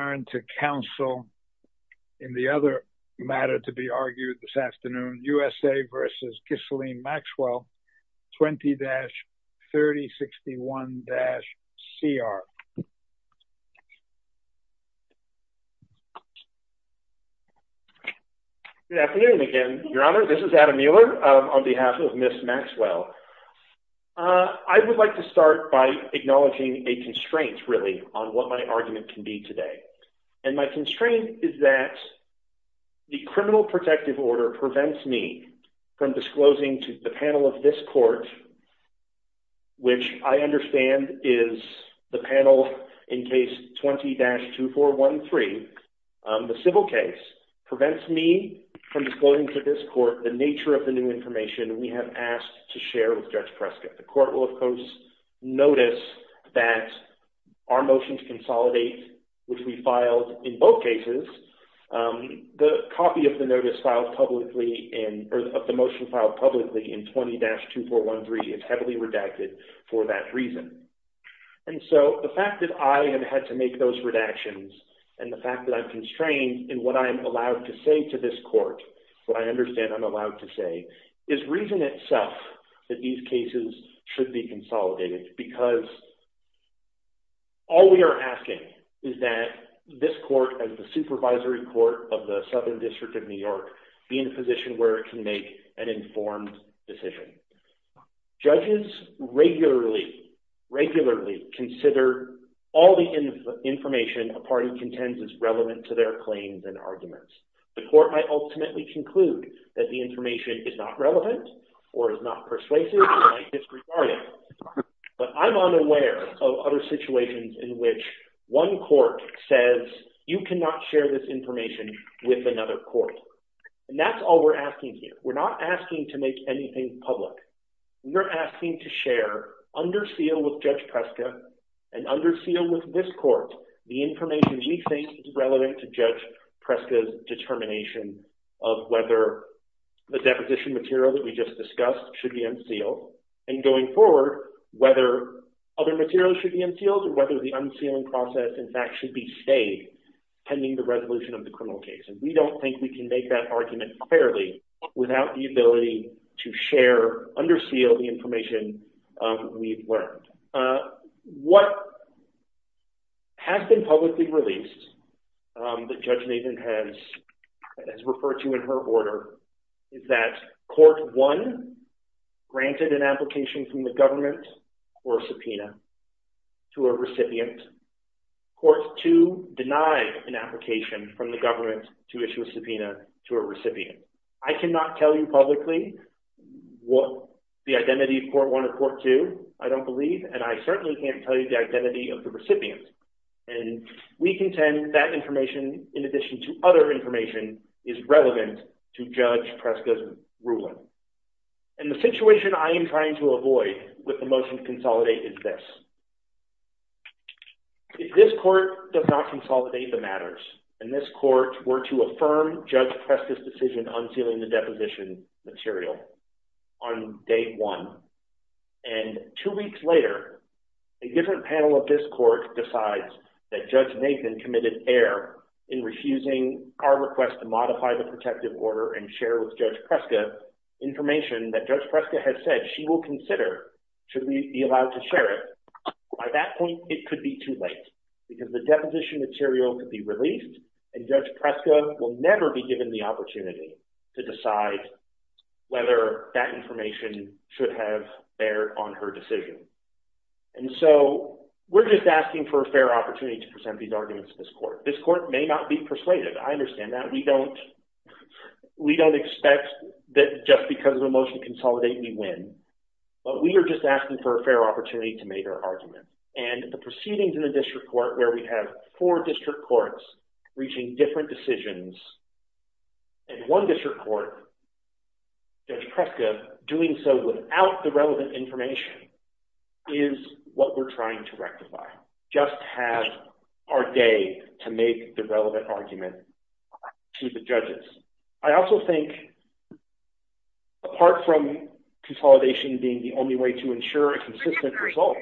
20-3061-CR Good afternoon again, Your Honor. This is Adam Mueller on behalf of Ms. Maxwell. I would like to start by acknowledging a constraint, really, on what my argument can be today. And my constraint is that the criminal protective order prevents me from disclosing to the panel of this court, which I understand is the panel in case 20-2413, the civil case, prevents me from disclosing to this court the nature of the new information we have asked to share with Judge Prescott. The court will, of course, notice that our motion to consolidate, which we filed in both cases, the copy of the motion filed publicly in 20-2413 is heavily redacted for that reason. And so the fact that I have had to make those redactions and the fact that I'm constrained in what I am allowed to say to this court, what I understand I'm allowed to say, is reason itself that these cases should be consolidated because all we are asking is that this court, as the supervisory court of the Southern District of New York, be in a position where it can make an informed decision. Judges regularly, regularly consider all the information a party contends is relevant to their claims and arguments. The court might ultimately conclude that the information is not relevant or is not persuasive or disregarded. But I'm unaware of other situations in which one court says, you cannot share this information with another court. And that's all we're asking here. We're not asking to make anything public. We're asking to share, under seal with Judge Prescott and under seal with this court, the information we think is relevant to Judge Prescott's determination of whether the deposition material that we just discussed should be unsealed. And going forward, whether other materials should be unsealed or whether the unsealing process, in fact, should be stayed pending the resolution of the criminal case. And we don't think we can make that argument fairly without the ability to share, under seal, the information we've learned. What has been publicly released that Judge Maven has referred to in her order is that Court 1 granted an application from the government for a subpoena to a recipient. Court 2 denied an application from the government to issue a subpoena to a recipient. I cannot tell you publicly what the identity of Court 1 or Court 2, I don't believe. And I certainly can't tell you the identity of the recipient. And we contend that information, in addition to other information, is relevant to Judge Prescott's ruling. And the situation I am trying to avoid with the motion to consolidate is this. If this court does not consolidate the matters, and this court were to affirm Judge Prescott's decision unsealing the deposition material on day one, and two weeks later, a different panel of this court decides that Judge Maven committed error in refusing our request to modify the protective order and share with Judge Prescott information that Judge Prescott has said she will consider should we be allowed to share it. By that point, it could be too late. Because the deposition material could be released, and Judge Prescott will never be given the opportunity to decide whether that information should have erred on her decision. And so we're just asking for a fair opportunity to present these arguments to this court. This court may not be persuaded. I understand that. We don't expect that just because of the motion to consolidate, we win. But we are just asking for a fair opportunity to make our argument. And the proceedings in the district court, where we have four district courts reaching different decisions, and one district court, Judge Prescott, doing so without the relevant information, is what we're trying to rectify. We do not just have our day to make the relevant argument to the judges. I also think, apart from consolidation being the only way to ensure a consistent result,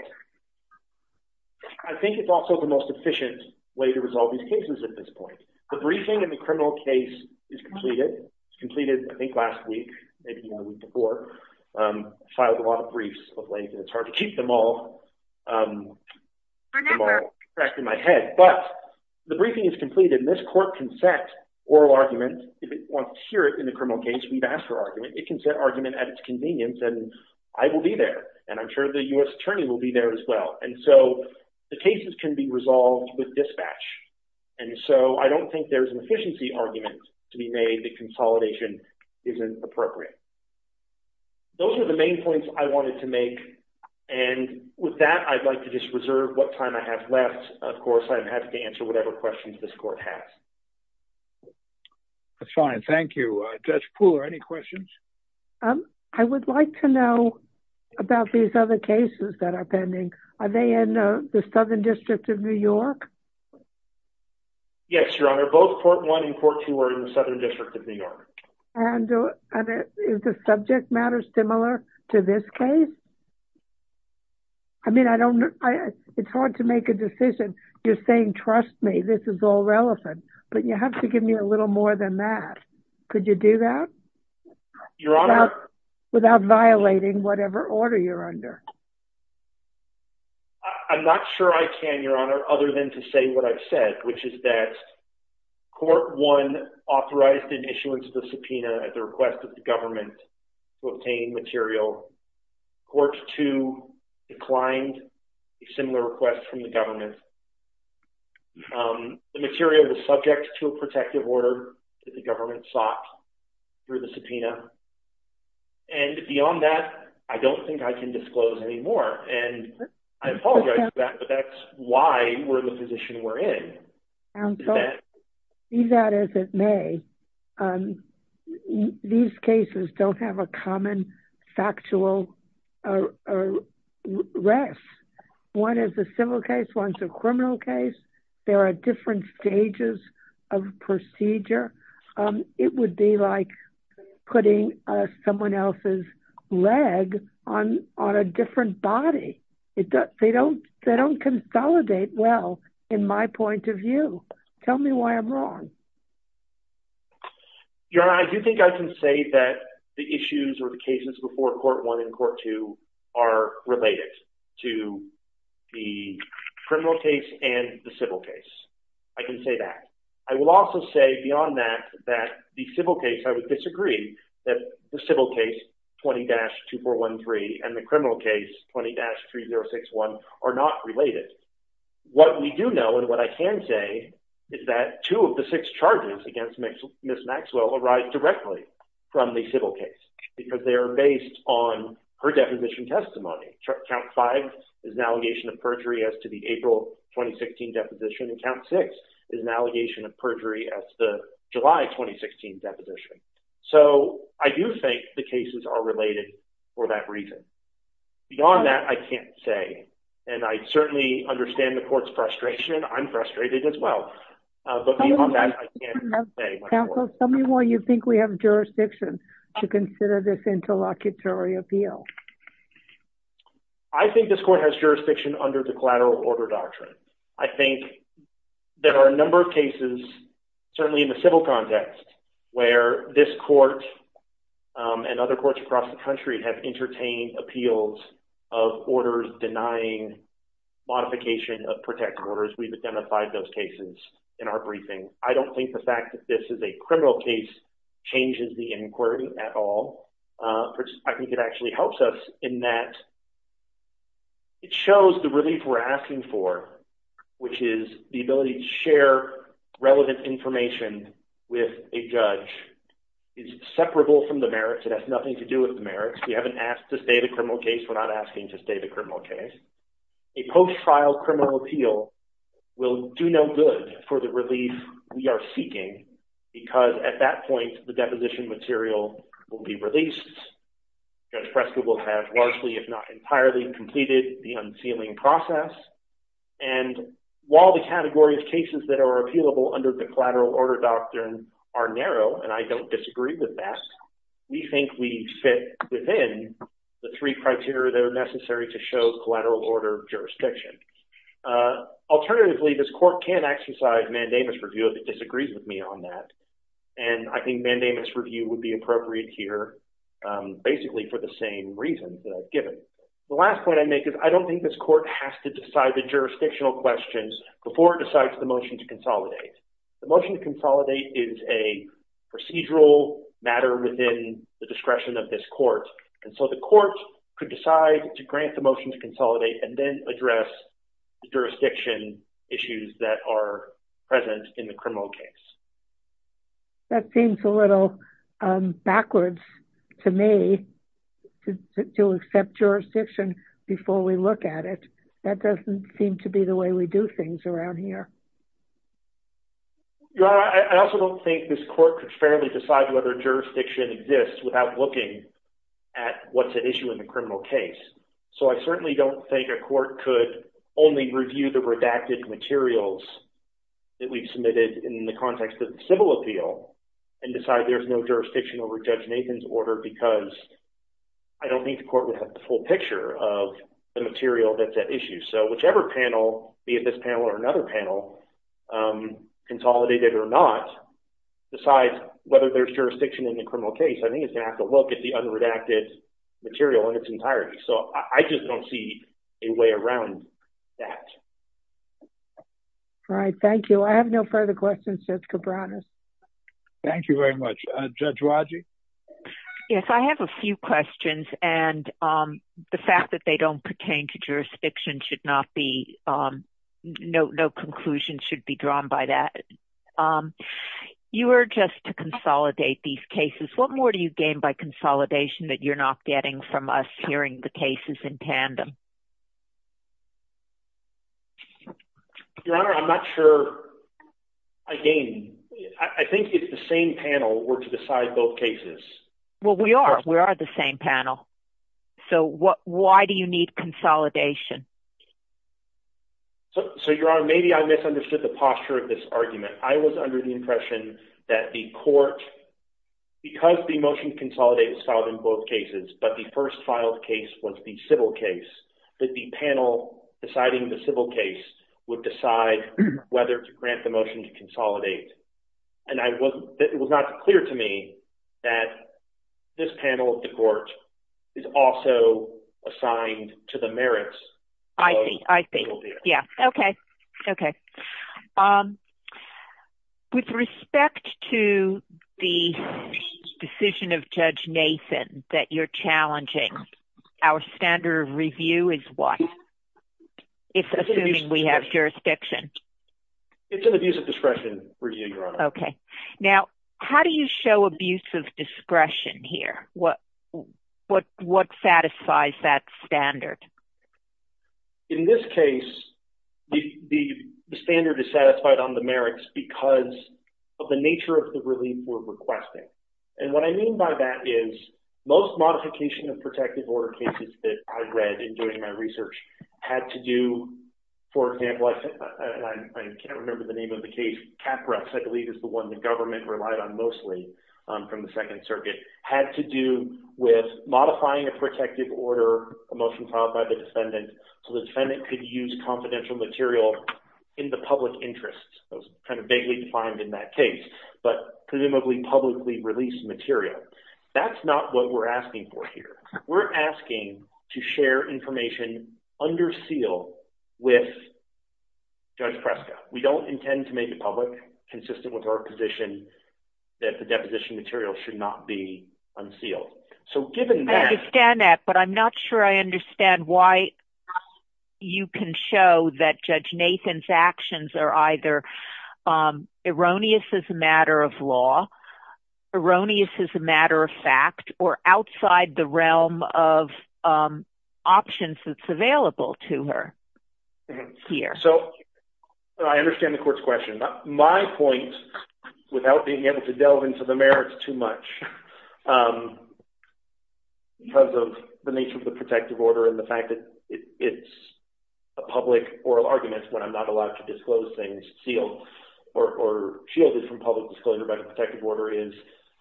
I think it's also the most efficient way to resolve these cases at this point. The briefing in the criminal case is completed. It was completed, I think, last week, maybe one week before. I filed a lot of briefs of late, and it's hard to keep them all pressed in my head. But the briefing is completed, and this court can set oral arguments. If it wants to hear it in the criminal case, we've asked for argument. It can set argument at its convenience, and I will be there. And I'm sure the U.S. attorney will be there as well. And so the cases can be resolved with dispatch. And so I don't think there's an efficiency argument to be made that consolidation isn't appropriate. Those are the main points I wanted to make. And with that, I'd like to just reserve what time I have left. Of course, I'm happy to answer whatever questions this court has. That's fine. Thank you. Judge Pooler, any questions? I would like to know about these other cases that are pending. Are they in the Southern District of New York? Yes, Your Honor. Both Court 1 and Court 2 are in the Southern District of New York. Is the subject matter similar to this case? I mean, it's hard to make a decision. You're saying, trust me, this is all relevant. But you have to give me a little more than that. Could you do that? Without violating whatever order you're under? I'm not sure I can, Your Honor, other than to say what I've said, which is that Court 1 authorized the issuance of the subpoena at the request of the government to obtain material. Court 2 declined a similar request from the government. The material was subject to a protective order that the government sought through the subpoena. And beyond that, I don't think I can disclose any more. And I apologize for that, but that's why we're in the position we're in. Do that as it may. These cases don't have a common factual rest. One is a civil case. One is a criminal case. There are different stages of procedure. It would be like putting someone else's leg on a different body. They don't consolidate well in my point of view. Tell me why I'm wrong. Your Honor, I do think I can say that the issues or the cases before Court 1 and Court 2 are related to the criminal case and the civil case. I can say that. I will also say beyond that that the civil case, I would disagree that the civil case 20-2413 and the criminal case 20-3061 are not related. What we do know and what I can say is that two of the six charges against Ms. Maxwell arise directly from the civil case because they are based on her deposition testimony. Count 5 is an allegation of perjury as to the April 2016 deposition. And Count 6 is an allegation of perjury as to the July 2016 deposition. So I do think the cases are related for that reason. Beyond that, I can't say. And I certainly understand the Court's frustration. I'm frustrated as well. But beyond that, I can't say much more. Counsel, tell me why you think we have jurisdiction to consider this interlocutory appeal. I think this Court has jurisdiction under the collateral order doctrine. I think there are a number of cases, certainly in the civil context, where this Court and other courts across the country have entertained appeals of orders denying modification of protected orders. We've identified those cases in our briefing. I don't think the fact that this is a criminal case changes the inquiry at all. I think it actually helps us in that it shows the relief we're asking for, which is the ability to share relevant information with a judge, is separable from the merits. It has nothing to do with the merits. We haven't asked to stay the criminal case. We're not asking to stay the criminal case. A post-trial criminal appeal will do no good for the relief we are seeking because, at that point, the deposition material will be released. Judge Prescott will have largely, if not entirely, completed the unsealing process. And while the category of cases that are appealable under the collateral order doctrine are narrow, and I don't disagree with that, we think we fit within the three criteria that are necessary to show collateral order jurisdiction. Alternatively, this Court can exercise mandamus review if it disagrees with me on that. And I think mandamus review would be appropriate here, basically, for the same reasons as given. The last point I make is I don't think this Court has to decide the jurisdictional questions before it decides the motion to consolidate. The motion to consolidate is a procedural matter within the discretion of this Court. And so the Court could decide to grant the motion to consolidate and then address the jurisdiction issues that are present in the criminal case. That seems a little backwards to me, to accept jurisdiction before we look at it. That doesn't seem to be the way we do things around here. Your Honor, I also don't think this Court could fairly decide whether jurisdiction exists without looking at what's at issue in the criminal case. So I certainly don't think a Court could only review the redacted materials that we've submitted in the context of the civil appeal and decide there's no jurisdiction over Judge Nathan's order because I don't think the Court would have the full picture of the material that's at issue. So whichever panel, be it this panel or another panel, consolidated or not, besides whether there's jurisdiction in the criminal case, I think it's going to have to look at the unredacted material in its entirety. So I just don't see a way around that. All right, thank you. I have no further questions, Judge Cabranas. Thank you very much. Judge Rodgers? Yes, I have a few questions. The fact that they don't pertain to jurisdiction should not be – no conclusion should be drawn by that. You were just to consolidate these cases. What more do you gain by consolidation that you're not getting from us hearing the cases in tandem? Your Honor, I'm not sure I gain. I think it's the same panel. We're to decide both cases. Well, we are. We are the same panel. So why do you need consolidation? So, Your Honor, maybe I misunderstood the posture of this argument. I was under the impression that the Court, because the motion to consolidate was filed in both cases, but the first filed case was the civil case, that the panel deciding the civil case would decide whether to grant the motion to consolidate. And it was not clear to me that this panel of the Court is also assigned to the merits of the civil case. I see. I see. Yes. Okay. Okay. With respect to the decision of Judge Nathan that you're challenging, our standard review is what? It's assuming we have jurisdiction. It's an abuse of discretion review, Your Honor. Okay. Now, how do you show abuse of discretion here? What satisfies that standard? In this case, the standard is satisfied on the merits because of the nature of the relief we're requesting. And what I mean by that is most modification of protective order cases that I've read in doing my research had to do, for example, I can't remember the name of the case, Capra, I believe is the one the government relied on mostly from the Second Circuit, had to do with modifying a protective order, a motion filed by the defendant, so the defendant could use confidential material in the public interest. That was kind of vaguely defined in that case, but presumably publicly released material. That's not what we're asking for here. We're asking to share information under seal with Judge Presta. We don't intend to make it public consistent with our position that the deposition material should not be unsealed. I understand that, but I'm not sure I understand why you can show that Judge Nathan's actions are either erroneous as a matter of law, erroneous as a matter of fact, or outside the realm of options that's available to her here. So I understand the court's question. My point, without being able to delve into the merits too much, because of the nature of the protective order and the fact that it's a public oral argument, when I'm not allowed to disclose things sealed or shielded from public disclosure by the protective order is,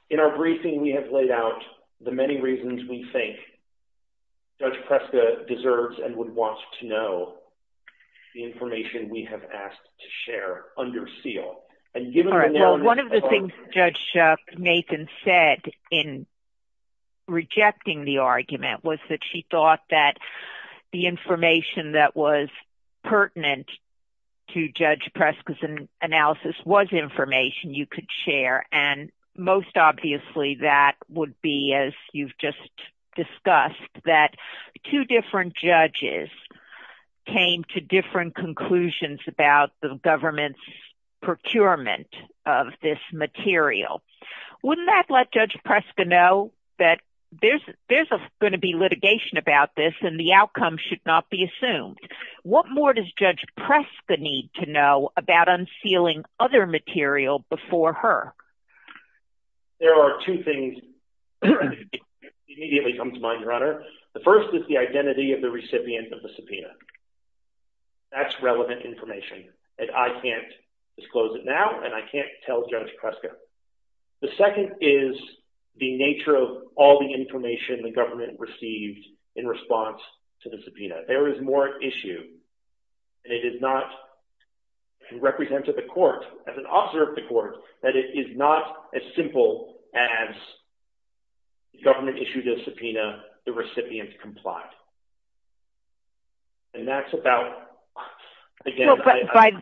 in our briefing we have laid out the many reasons we think Judge Presta deserves and would want to know the information we have asked to share under seal. And given the warrant, One of the things Judge Nathan said in rejecting the argument was that she thought that the information that was pertinent to Judge Presta's analysis was information you could share. And most obviously that would be, as you've just discussed, that two different judges came to different conclusions about the government's procurement of this material. Wouldn't that let Judge Presta know that there's going to be litigation about this and the outcome should not be assumed? What more does Judge Presta need to know about unsealing other material before her? There are two things that immediately come to mind, Your Honor. The first is the identity of the recipient of the subpoena. That's relevant information, and I can't disclose it now, and I can't tell Judge Presta. The second is the nature of all the information the government received in response to the subpoena. There is more at issue. And it is not, and it represents at the court, as an officer of the court, that it is not as simple as the government issued a subpoena, the recipient complied. And that's about...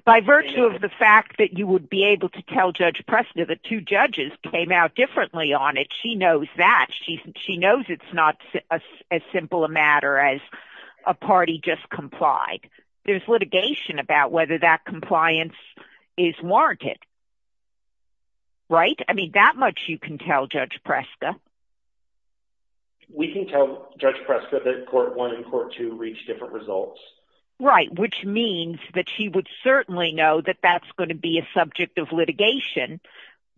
By virtue of the fact that you would be able to tell Judge Presta that two judges came out differently on it, she knows that. She knows it's not as simple a matter as a party just complied. There's litigation about whether that compliance is warranted. Right? I mean, that much you can tell Judge Presta. We can tell Judge Presta that Court 1 and Court 2 reached different results. Right, which means that she would certainly know that that's going to be a subject of litigation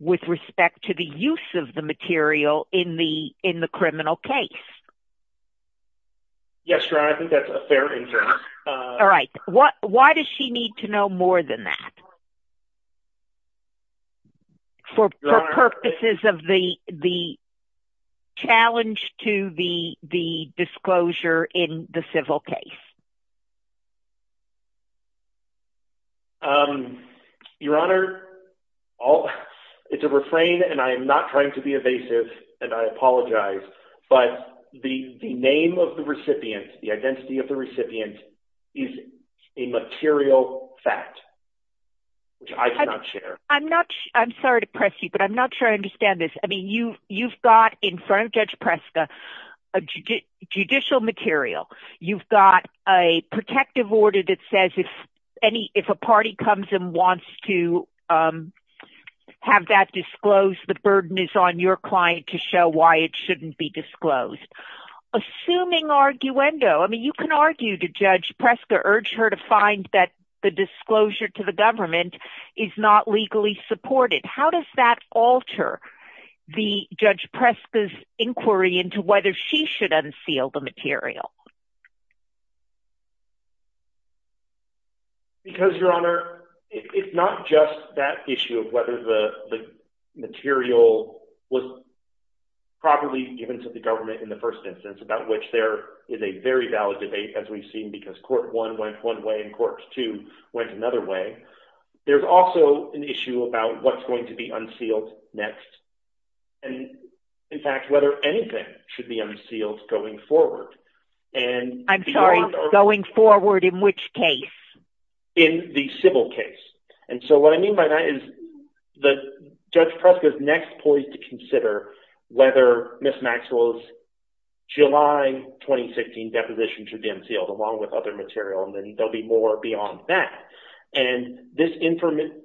with respect to the use of the material in the criminal case. Yes, Your Honor, I think that's a fair interest. All right. Why does she need to know more than that? For purposes of the challenge to the disclosure in the civil case. Your Honor, it's a refrain, and I am not trying to be evasive, and I apologize. But the name of the recipient, the identity of the recipient, is a material fact. I'm sorry to press you, but I'm not sure I understand this. I mean, you've got in front of Judge Presta a judicial material. You've got a protective order that says if a party comes and wants to have that disclosed, the burden is on your client to show why it shouldn't be disclosed. Assuming arguendo, I mean, you can argue to Judge Presta, urge her to find that the disclosure to the government is not legally supported. How does that alter Judge Presta's inquiry into whether she should unseal the material? Because, Your Honor, it's not just that issue of whether the material was properly given to the government in the first instance, about which there is a very valid debate, as we've seen, because court one went one way and court two went another way. There's also an issue about what's going to be unsealed next, and, in fact, whether anything should be unsealed going forward. I'm sorry. Going forward in which case? In the civil case. And so what I mean by that is Judge Presta's next point to consider whether Ms. Maxwell's July 2016 deposition should be unsealed, along with other material, and then there'll be more beyond that. And this information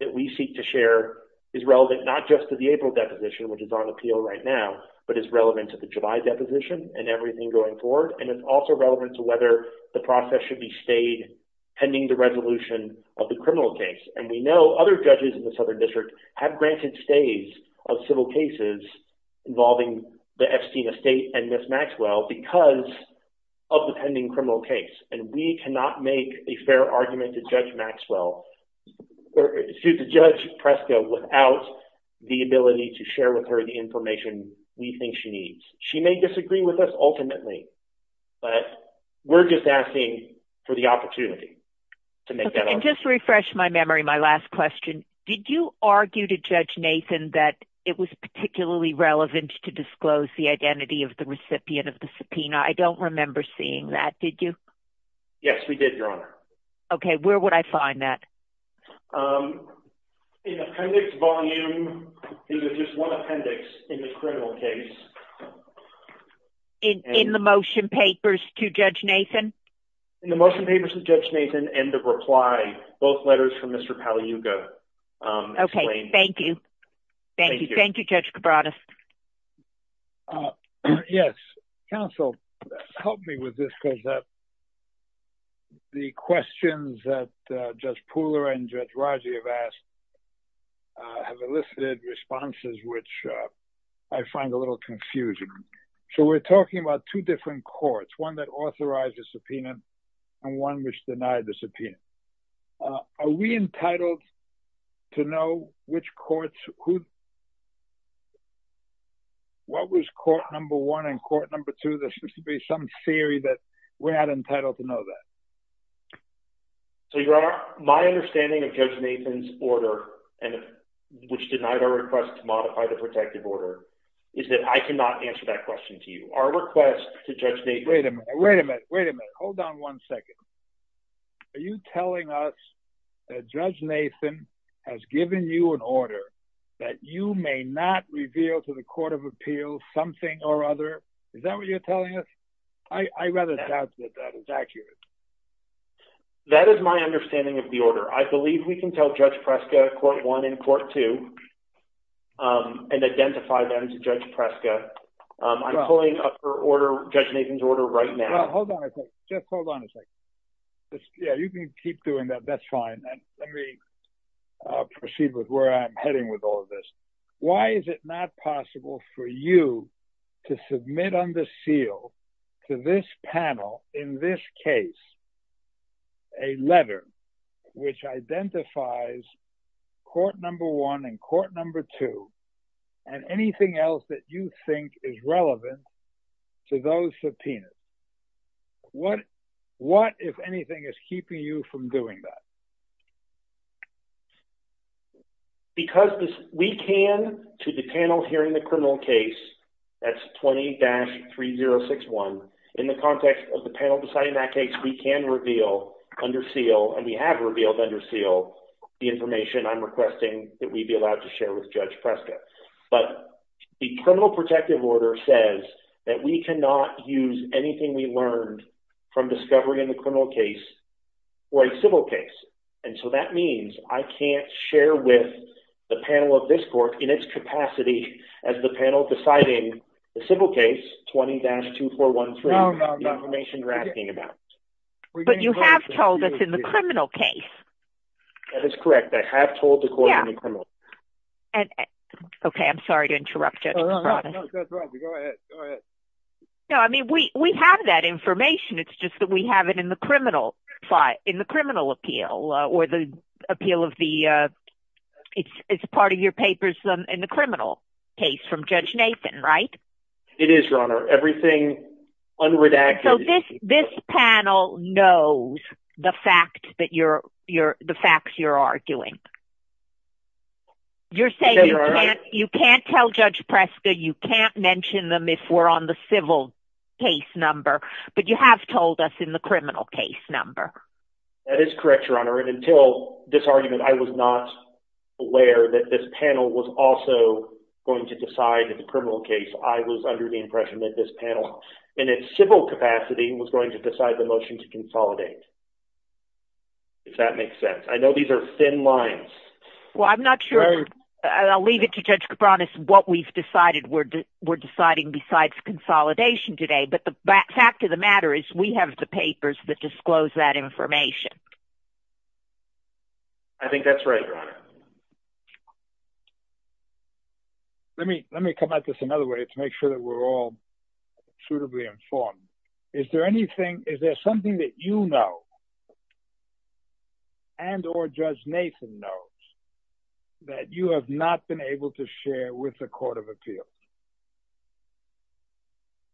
that we seek to share is relevant not just to the April deposition, which is on appeal right now, but is relevant to the July deposition and everything going forward, and is also relevant to whether the process should be stayed pending the resolution of the criminal case. And we know other judges in the Southern District have granted stays of civil cases involving the Epstein estate and Ms. Maxwell because of the pending criminal case, and we cannot make a fair argument to Judge Presta without the ability to share with her the information we think she needs. She may disagree with us ultimately, but we're just asking for the opportunity to make that argument. And just to refresh my memory, my last question, did you argue to Judge Nathan that it was particularly relevant to disclose the identity of the recipient of the subpoena? I don't remember seeing that. Did you? Yes, we did, Your Honor. Okay. Where would I find that? In appendix volume, there's just one appendix in the criminal case. In the motion papers to Judge Nathan? In the motion papers to Judge Nathan and the reply, both letters from Mr. Pagliuca. Okay. Thank you. Thank you, Judge Cabranes. Yes. Counsel, help me with this because the questions that Judge Pula and Judge Rajee have asked have elicited responses which I find a little confusing. So we're talking about two different courts, one that authorizes the subpoena and one which denies the subpoena. Are we entitled to know which courts? What was court number one and court number two? There's supposed to be some theory that we're not entitled to know that. So, Your Honor, my understanding of Judge Nathan's order, which denied our request to modify the protective order, is that I cannot answer that question to you. Our request to Judge Nathan— Wait a minute. Wait a minute. Hold on one second. Are you telling us that Judge Nathan has given you an order that you may not reveal to the Court of Appeals something or other? Is that what you're telling us? I rather doubt that that is accurate. That is my understanding of the order. I believe we can tell Judge Preska, court one and court two, and identify them to Judge Preska. I'm pulling up her order, Judge Nathan's order, right now. Hold on a second. Just hold on a second. Yeah, you can keep doing that. That's fine. Let me proceed with where I'm heading with all of this. Why is it not possible for you to submit under seal to this panel, in this case, a letter which identifies court number one and court number two and anything else that you think is relevant to those subpoenas? What, if anything, is keeping you from doing that? Because we can, to the panel here in the criminal case, that's 20-3061, in the context of the panel deciding that case, we can reveal under seal, and we have revealed under seal, the information I'm requesting that we be allowed to share with Judge Preska. But the criminal protective order says that we cannot use anything we learned from discovery in the criminal case or a civil case. And so that means I can't share with the panel of this court, in its capacity, as the panel deciding the civil case, 20-2413, the information you're asking about. But you have told us in the criminal case. That is correct. I have told the court in the criminal case. Okay. I'm sorry to interrupt you. That's all right. Go ahead. Go ahead. No, I mean, we have that information. It's just that we have it in the criminal file, in the criminal appeal, or the appeal of the – it's part of your papers in the criminal case from Judge Nathan, right? It is, Your Honor. Everything unredacted. So this panel knows the facts that you're – the facts you're arguing. You're saying you can't tell Judge Preska, you can't mention them if we're on the civil case number, but you have told us in the criminal case number. That is correct, Your Honor. And until this argument, I was not aware that this panel was also going to decide the criminal case. I was under the impression that this panel, in its civil capacity, was going to decide the motion to consolidate. If that makes sense. I know these are thin lines. Well, I'm not sure – I'll leave it to Judge Cabranes what we've decided we're deciding besides consolidation today. But the fact of the matter is we have the papers that disclose that information. I think that's right, Your Honor. Let me – let me come at this another way to make sure that we're all suitably informed. Is there anything – is there something that you know and or Judge Nathan knows that you have not been able to share with the Court of Appeals?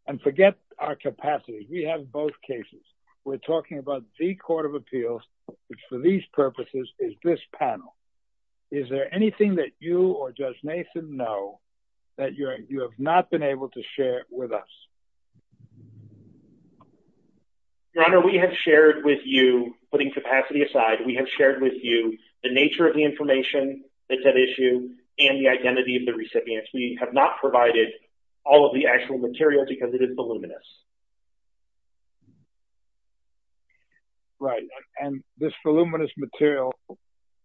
And forget our capacity. We have both cases. We're talking about the Court of Appeals, which for these purposes is this panel. Is there anything that you or Judge Nathan know that you have not been able to share with us? Your Honor, we have shared with you, putting capacity aside, we have shared with you the nature of the information that's at issue and the identity of the recipient. We have not provided all of the actual material because it is voluminous. Right. And this voluminous material,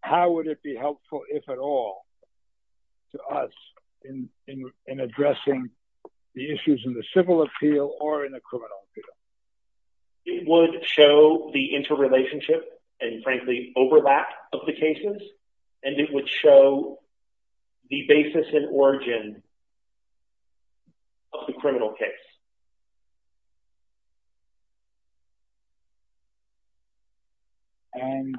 how would it be helpful, if at all, to us in addressing the issues in the civil appeal or in the criminal appeal? It would show the interrelationship and, frankly, overlap of the cases, and it would show the basis and origin of the criminal case. And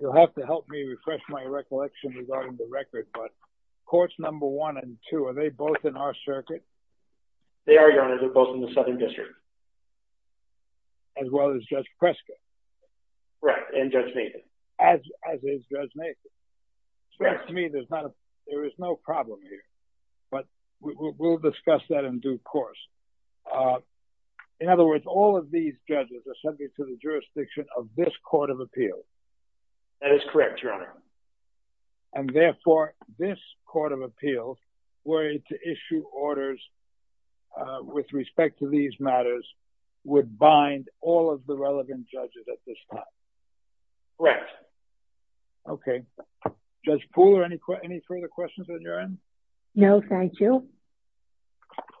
you'll have to help me refresh my recollection regarding the record, but Courts Number 1 and 2, are they both in our circuit? They are, Your Honor. They're both in the Southern District. As well as Judge Prescott. Right. And Judge Nathan. As is Judge Nathan. So to me, there is no problem here, but we would like to know and we'll discuss that in due course. In other words, all of these judges are subject to the jurisdiction of this Court of Appeal. That is correct, Your Honor. And therefore, this Court of Appeal, were it to issue orders with respect to these matters, would bind all of the relevant judges at this time. Correct. Okay. Judge Pooler, any further questions on your end? No, thank you.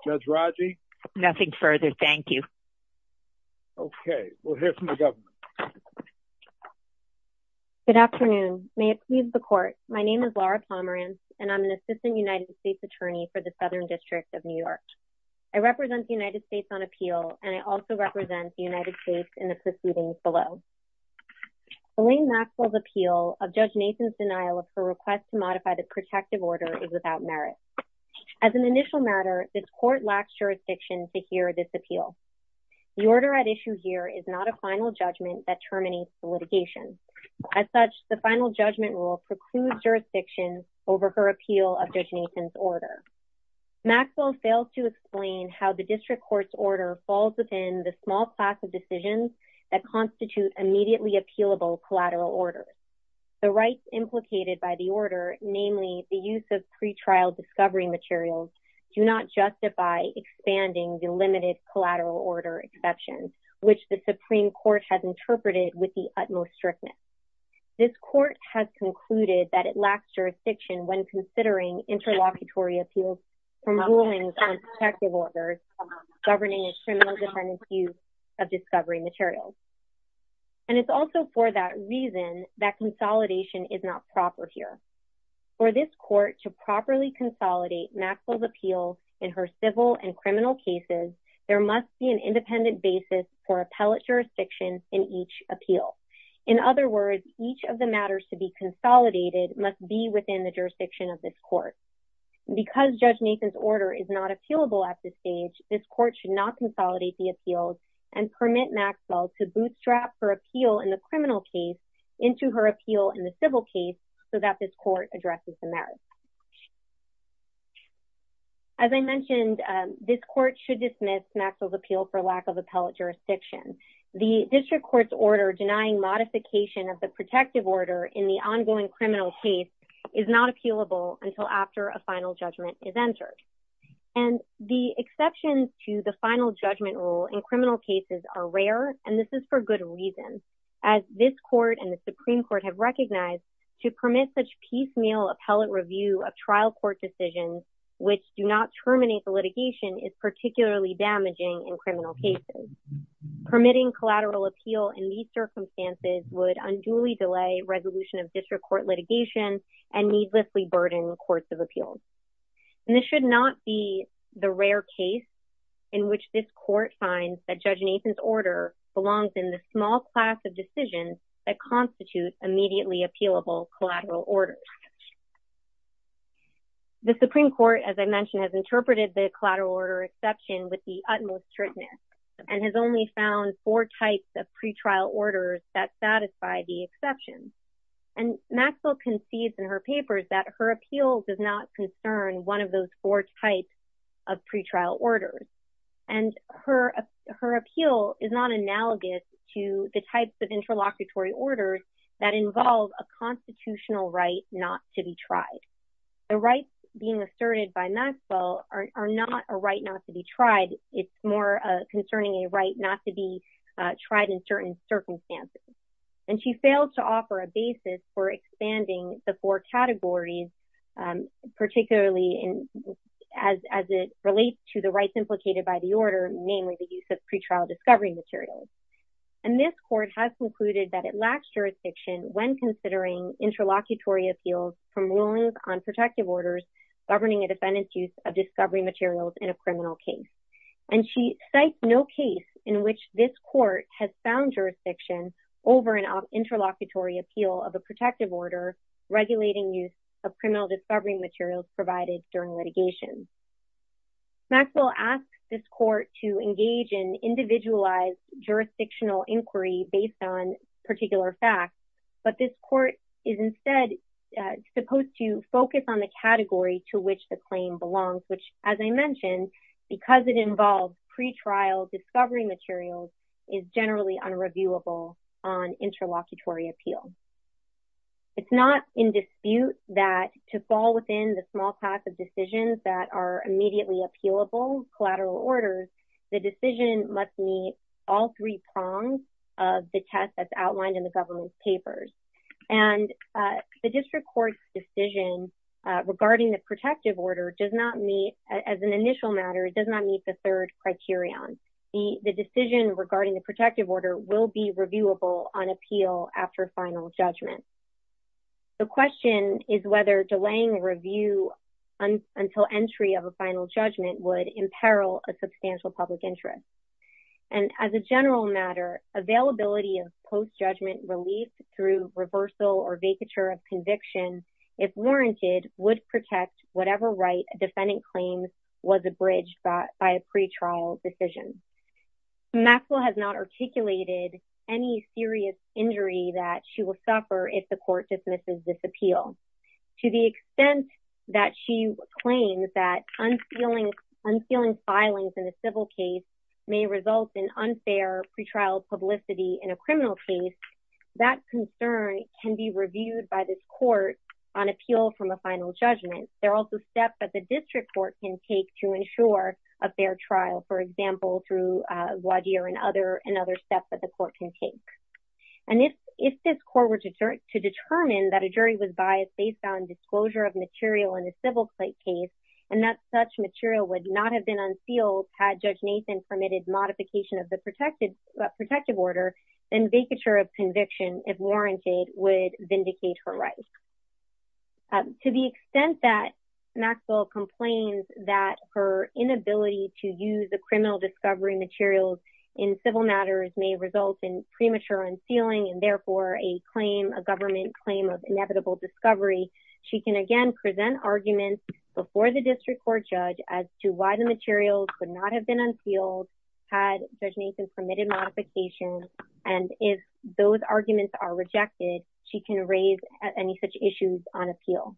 Judge Raji? Nothing further, thank you. Okay, we'll hear from the Governor. Good afternoon. May it please the Court. My name is Laura Pomerance, and I'm an Assistant United States Attorney for the Southern District of New York. I represent the United States on appeal, and I also represent the United States in the proceedings below. Elaine Maxwell's appeal of Judge Nathan's denial of her request to modify the protective order is without merit. As an initial matter, this Court lacks jurisdiction to hear this appeal. The order at issue here is not a final judgment that terminates the litigation. As such, the final judgment rule precludes jurisdiction over her appeal of Judge Nathan's order. Maxwell fails to explain how the District Court's order falls within the small class of decisions that constitute immediately appealable collateral orders. The rights implicated by the order, namely the use of pretrial discovery materials, do not justify expanding the limited collateral order exception, which the Supreme Court has interpreted with the utmost strictness. This Court has concluded that it lacks jurisdiction when considering interlocutory appeals from rulings on protective orders governing a criminal-dependent use of discovery materials. And it's also for that reason that consolidation is not proper here. For this Court to properly consolidate Maxwell's appeals in her civil and criminal cases, there must be an independent basis for appellate jurisdiction in each appeal. In other words, each of the matters to be consolidated must be within the jurisdiction of this Court. Because Judge Nathan's order is not appealable at this stage, this Court should not consolidate the appeals and permit Maxwell to bootstrap her appeal in the criminal case into her appeal in the civil case so that this Court addresses the merits. As I mentioned, this Court should dismiss Maxwell's appeal for lack of appellate jurisdiction. The District Court's order denying modification of the protective order in the ongoing criminal case is not appealable until after a final judgment is entered. And the exceptions to the final judgment rule in criminal cases are rare, and this is for good reason, as this Court and the Supreme Court have recognized to permit such piecemeal appellate review of trial court decisions, which do not terminate the litigation, is particularly damaging in criminal cases. Permitting collateral appeal in these circumstances would unduly delay resolution of District Court litigation and needlessly burden courts of appeals. And this should not be the rare case in which this Court finds that Judge Nathan's order belongs in the small class of decisions that constitute immediately appealable collateral orders. The Supreme Court, as I mentioned, has interpreted the collateral order exception with the utmost strictness and has only found four types of pretrial orders that satisfy the exception. And Maxwell concedes in her papers that her appeal does not concern one of those four types of pretrial orders. And her appeal is not analogous to the types of interlocutory orders that involve a constitutional right not to be tried. The rights being asserted by Maxwell are not a right not to be tried. It's more concerning a right not to be tried in certain circumstances. And she fails to offer a basis for expanding the four categories, particularly as it relates to the rights implicated by the order, namely the use of pretrial discovery materials. And this Court has concluded that it lacks jurisdiction when considering interlocutory appeals from rulings on protective orders governing a defendant's use of discovery materials in a criminal case. And she cites no case in which this Court has found jurisdiction over an interlocutory appeal of a protective order regulating use of criminal discovery materials provided during litigation. Maxwell asks this Court to engage in individualized jurisdictional inquiry based on particular facts, but this Court is instead supposed to focus on the category to which the claim belongs, which, as I mentioned, because it involves pretrial discovery materials, is generally unreviewable on interlocutory appeal. It's not in dispute that to fall within the small pack of decisions that are immediately appealable, collateral orders, the decision must meet all three prongs of the test that's outlined in the government's papers. And the district court's decision regarding the protective order does not meet, as an initial matter, does not meet the third criterion. The decision regarding the protective order will be reviewable on appeal after final judgment. The question is whether delaying the review until entry of a final judgment would imperil a substantial public interest. And as a general matter, availability of post-judgment relief through reversal or vacatur of conviction, if warranted, would protect whatever right a defendant claims was abridged by a pretrial decision. Maxwell has not articulated any serious injury that she will suffer if the Court dismisses this appeal. To the extent that she claims that unsealing filings in a civil case may result in unfair pretrial publicity in a criminal case, that concern can be reviewed by this Court on appeal from a final judgment. There are also steps that the district court can take to ensure a fair trial, for example, through Wadhir and other steps that the Court can take. And if this Court were to determine that a jury was biased based on disclosure of material in a civil case, and that such material would not have been unsealed had Judge Nathan permitted modification of the protective order, then vacatur of conviction, if warranted, would vindicate her rights. To the extent that Maxwell complains that her inability to use the criminal discovery materials in civil matters may result in premature unsealing and therefore a claim, a government claim, of inevitable discovery, she can again present arguments before the district court judge as to why the materials could not have been unsealed had Judge Nathan permitted modification. And if those arguments are rejected, she can raise any such issues on appeal.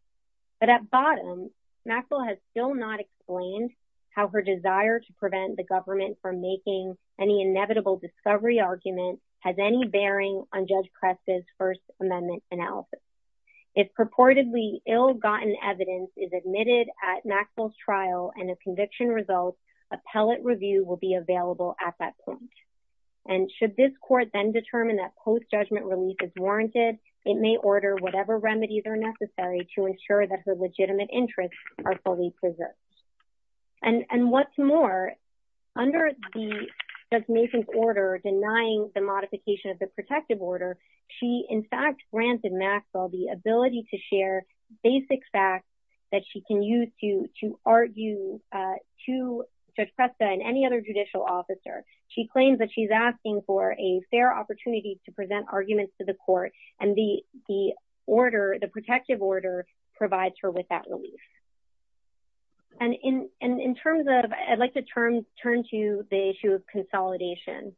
But at bottom, Maxwell has still not explained how her desire to prevent the government from making any inevitable discovery argument has any bearing on Judge Preston's First Amendment analysis. If purportedly ill-gotten evidence is admitted at Maxwell's trial and a conviction results, appellate review will be available at that point. And should this Court then determine that post-judgment relief is warranted, it may order whatever remedies are necessary to ensure that her legitimate interests are fully preserved. And what's more, under Judge Nathan's order for denying the modification of the protective order, she in fact granted Maxwell the ability to share basic facts that she can use to argue to Judge Preston and any other judicial officer. She claims that she's asking for a fair opportunity to present arguments to the Court, and the order, the protective order, provides her with that relief. And in terms of... I'll turn to the issue of consolidation.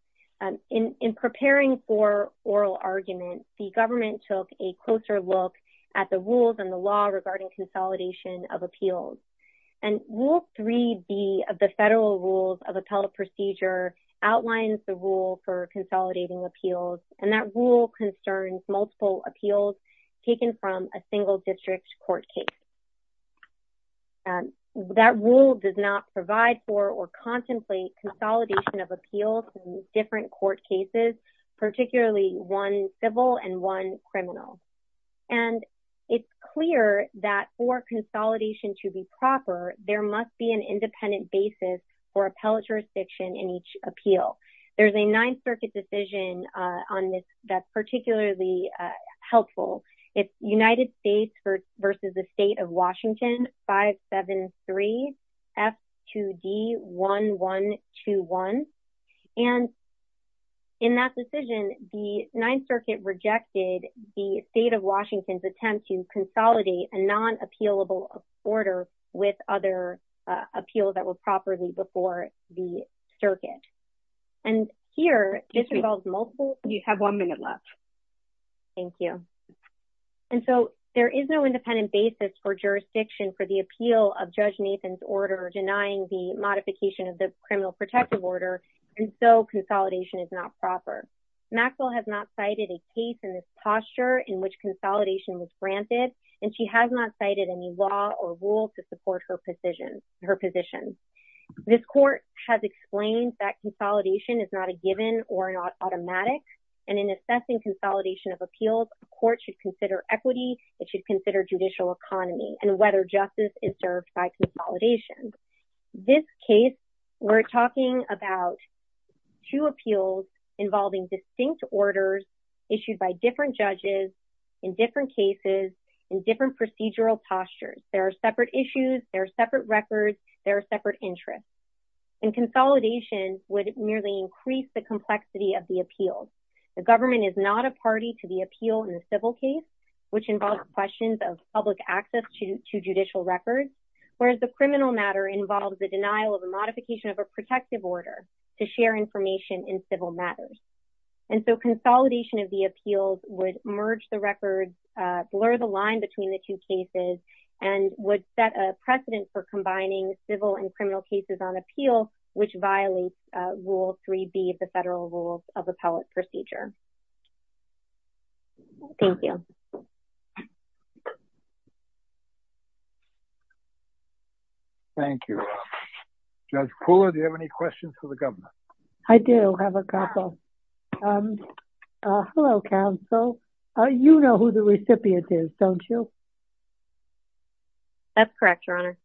In preparing for oral arguments, the government took a closer look at the rules and the law regarding consolidation of appeals. And Rule 3B of the Federal Rules of Appellate Procedure outlines the rule for consolidating appeals, and that rule concerns multiple appeals taken from a single-district court case. That rule does not provide for or contemplate consolidation of appeals in different court cases, particularly one civil and one criminal. And it's clear that for consolidation to be proper, there must be an independent basis for appellate jurisdiction in each appeal. There's a Ninth Circuit decision on this that's particularly helpful. It's United States versus the State of Washington, 573 F2D 1121. And in that decision, the Ninth Circuit rejected the State of Washington's attempt to consolidate a non-appealable order with other appeals that were properly before the circuit. And here, this involves multiple... You have one minute left. Thank you. And so there is no independent basis for jurisdiction for the appeal of Judge Nathan's order denying the modification of the criminal protective order, and so consolidation is not proper. Maxwell has not cited a case in this posture in which consolidation was granted, and she has not cited any law or rule to support her position. This court has explained that consolidation is not a given or an automatic, and in assessing consolidation of appeals, a court should consider equity, it should consider judicial economy and whether justice is served by consolidation. This case, we're talking about two appeals involving distinct orders issued by different judges in different cases in different procedural postures. There are separate issues, there are separate records, there are separate interests. And consolidation would merely increase the complexity of the appeal. The government is not a party to the appeal in the civil case, which involves questions of public access to judicial records, whereas the criminal matter involves the denial of a modification of a protective order to share information in civil matters. And so consolidation of the appeals would merge the records, blur the line between the two cases, and would set a precedent for combining civil and criminal cases on appeal, which violates Rule 3B of the Federal Rules of Appellate Procedure. Thank you. Thank you. Judge Pooler, do you have any questions for the governor? I do have a couple. Hello, counsel. You know who the recipient is, don't you? That's correct, Your Honor.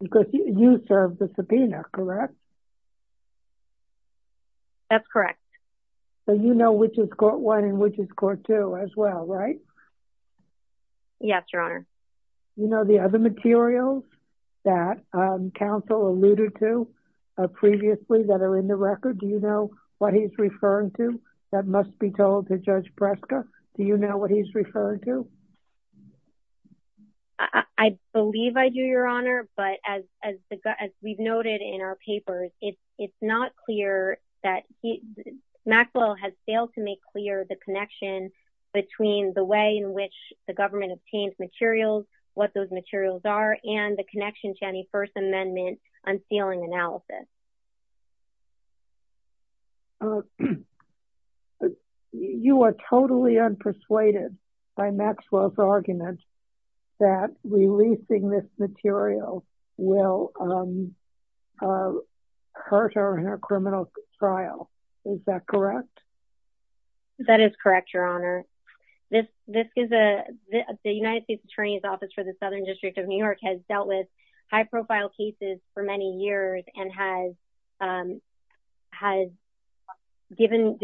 Because you served the subpoena, correct? That's correct. So you know which is Court 1 and which is Court 2 as well, right? Yes, Your Honor. You know the other materials that counsel alluded to previously that are in the record, do you know what he's referring to that must be told to Judge Breska? Do you know what he's referring to? I believe I do, Your Honor, but as we've noted in our papers, it's not clear that he... Maxwell has failed to make clear the connection between the way in which the government obtains materials, what those materials are, and the connection to any First Amendment unsealing analysis. You are totally unpersuaded by Maxwell's argument that releasing this material will hurt our criminal trial. Is that correct? That is correct, Your Honor. The United States Attorney's Office for the Southern District of New York has dealt with high-profile cases for many years and has given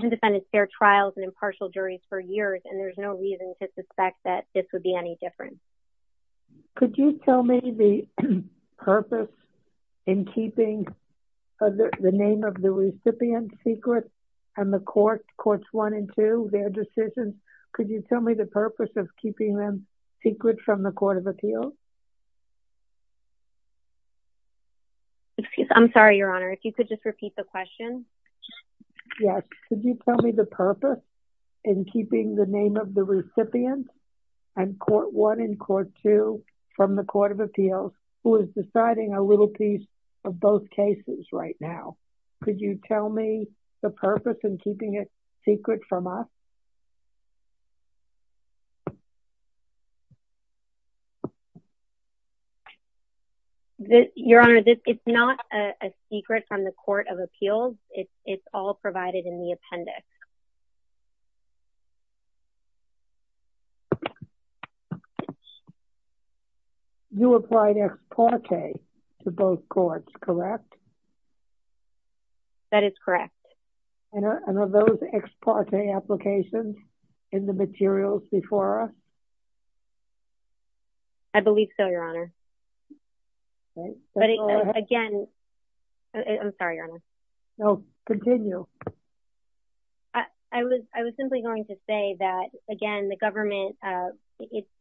defendants fair trials and impartial juries for years, and there's no reason to suspect that this would be any different. Could you tell me the purpose in keeping the name of the recipient secret and the courts, Courts 1 and 2, their decisions? from the Court of Appeals? I'm sorry, Your Honor. If you could just repeat the question. Yes. Could you tell me the purpose in keeping the name of the recipient and Court 1 and Court 2 from the Court of Appeals who is deciding a little piece of both cases right now? Could you tell me the purpose in keeping it secret from us? Your Honor, it's not a secret from the Court of Appeals. It's all provided in the appendix. You applied ex parte to both courts, correct? That is correct. And of those ex parte applications, in the materials before us? I believe so, Your Honor. I'm sorry, Your Honor. No, continue. I was simply going to say that, again, the government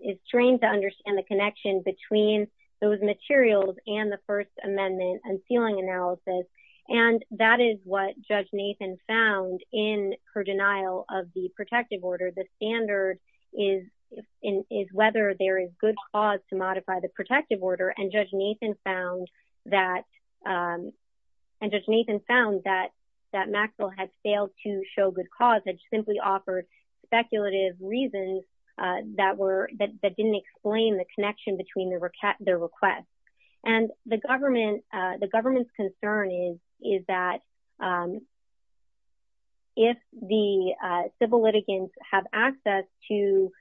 is trained to understand the connection between those materials and the First Amendment and ceiling analysis, and that is what Judge Nathan found in her denial of the protective order. The standard is whether there is good cause to modify the protective order, and Judge Nathan found that Maxwell had failed to show good cause and simply offered speculative reasons that didn't explain the connection between their requests. And the government's concern is that if the civil litigants have access to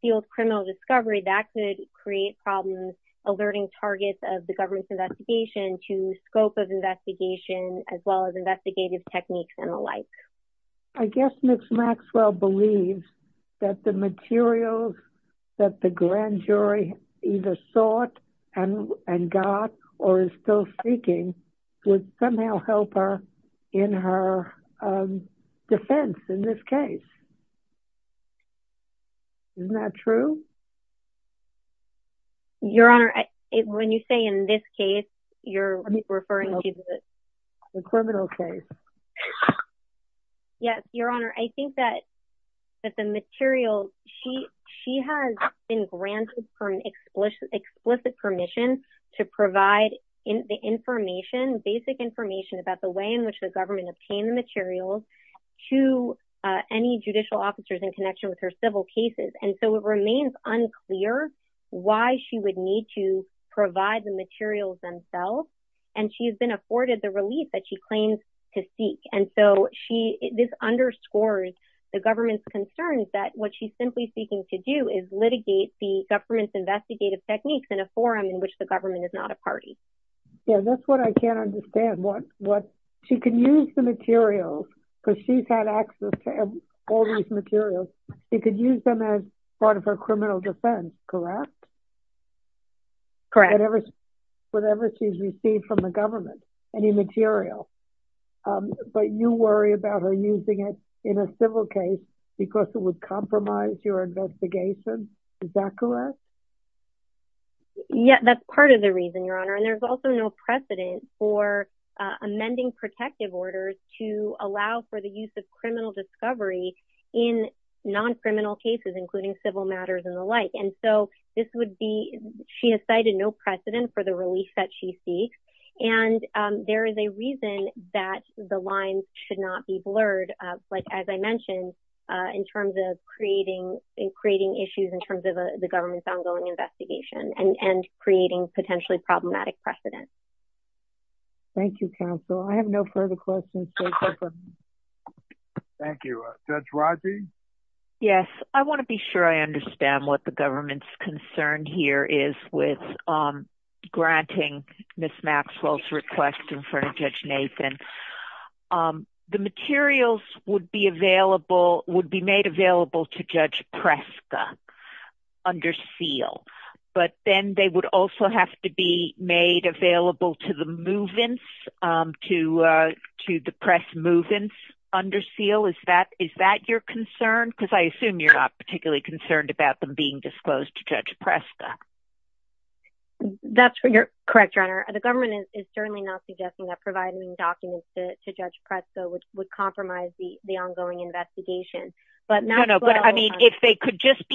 field criminal discovery, that could create problems alerting targets of the government's investigation to scope of investigation, as well as investigative techniques and the like. I guess Ms. Maxwell believes that the materials that the grand jury either sought and got or is still seeking would somehow help her in her defense in this case. Isn't that true? Your Honor, when you say in this case, you're referring to the... The criminal case. Yes, Your Honor. I think that the materials, she has been granted explicit permission to provide the information, basic information about the way in which the government obtained the materials to any judicial officers in connection with her civil cases. And so it remains unclear why she would need to provide the materials themselves. And she has been afforded the relief that she claims to seek. And so this underscores the government's concerns that what she's simply seeking to do is litigate the government's investigative techniques in a forum in which the government is not a party. Yeah, that's what I can't understand. She can use the materials because she's had access to all these materials. She could use them as part of her criminal defense, correct? Correct. Whatever she's received from the government, any material. But you worry about her using it in a civil case because it would compromise your investigation. Is that correct? Yeah, that's part of the reason, Your Honor. And there's also no precedent for amending protective orders to allow for the use of criminal discovery in non-criminal cases, including civil matters and the like. And so this would be, she has cited no precedent for the relief that she seeks. And there is a reason that the lines should not be blurred, like as I mentioned, in terms of creating issues in terms of the government's ongoing investigation. And creating potentially problematic precedent. Thank you, counsel. I have no further questions. Thank you. Judge Rodney? Yes, I want to be sure I understand what the government's concern here is with granting Ms. Maxwell's request in front of Judge Nathan. The materials would be available, would be made available to Judge Preska under SEAL. But then they would also have to be made available to the move-ins, to the press move-ins under SEAL. Is that your concern? Because I assume you're not particularly concerned about them being disclosed to Judge Preska. That's correct, Your Honor. The government is certainly not suggesting that providing documents to Judge Preska would compromise the ongoing investigation. I mean, if they could just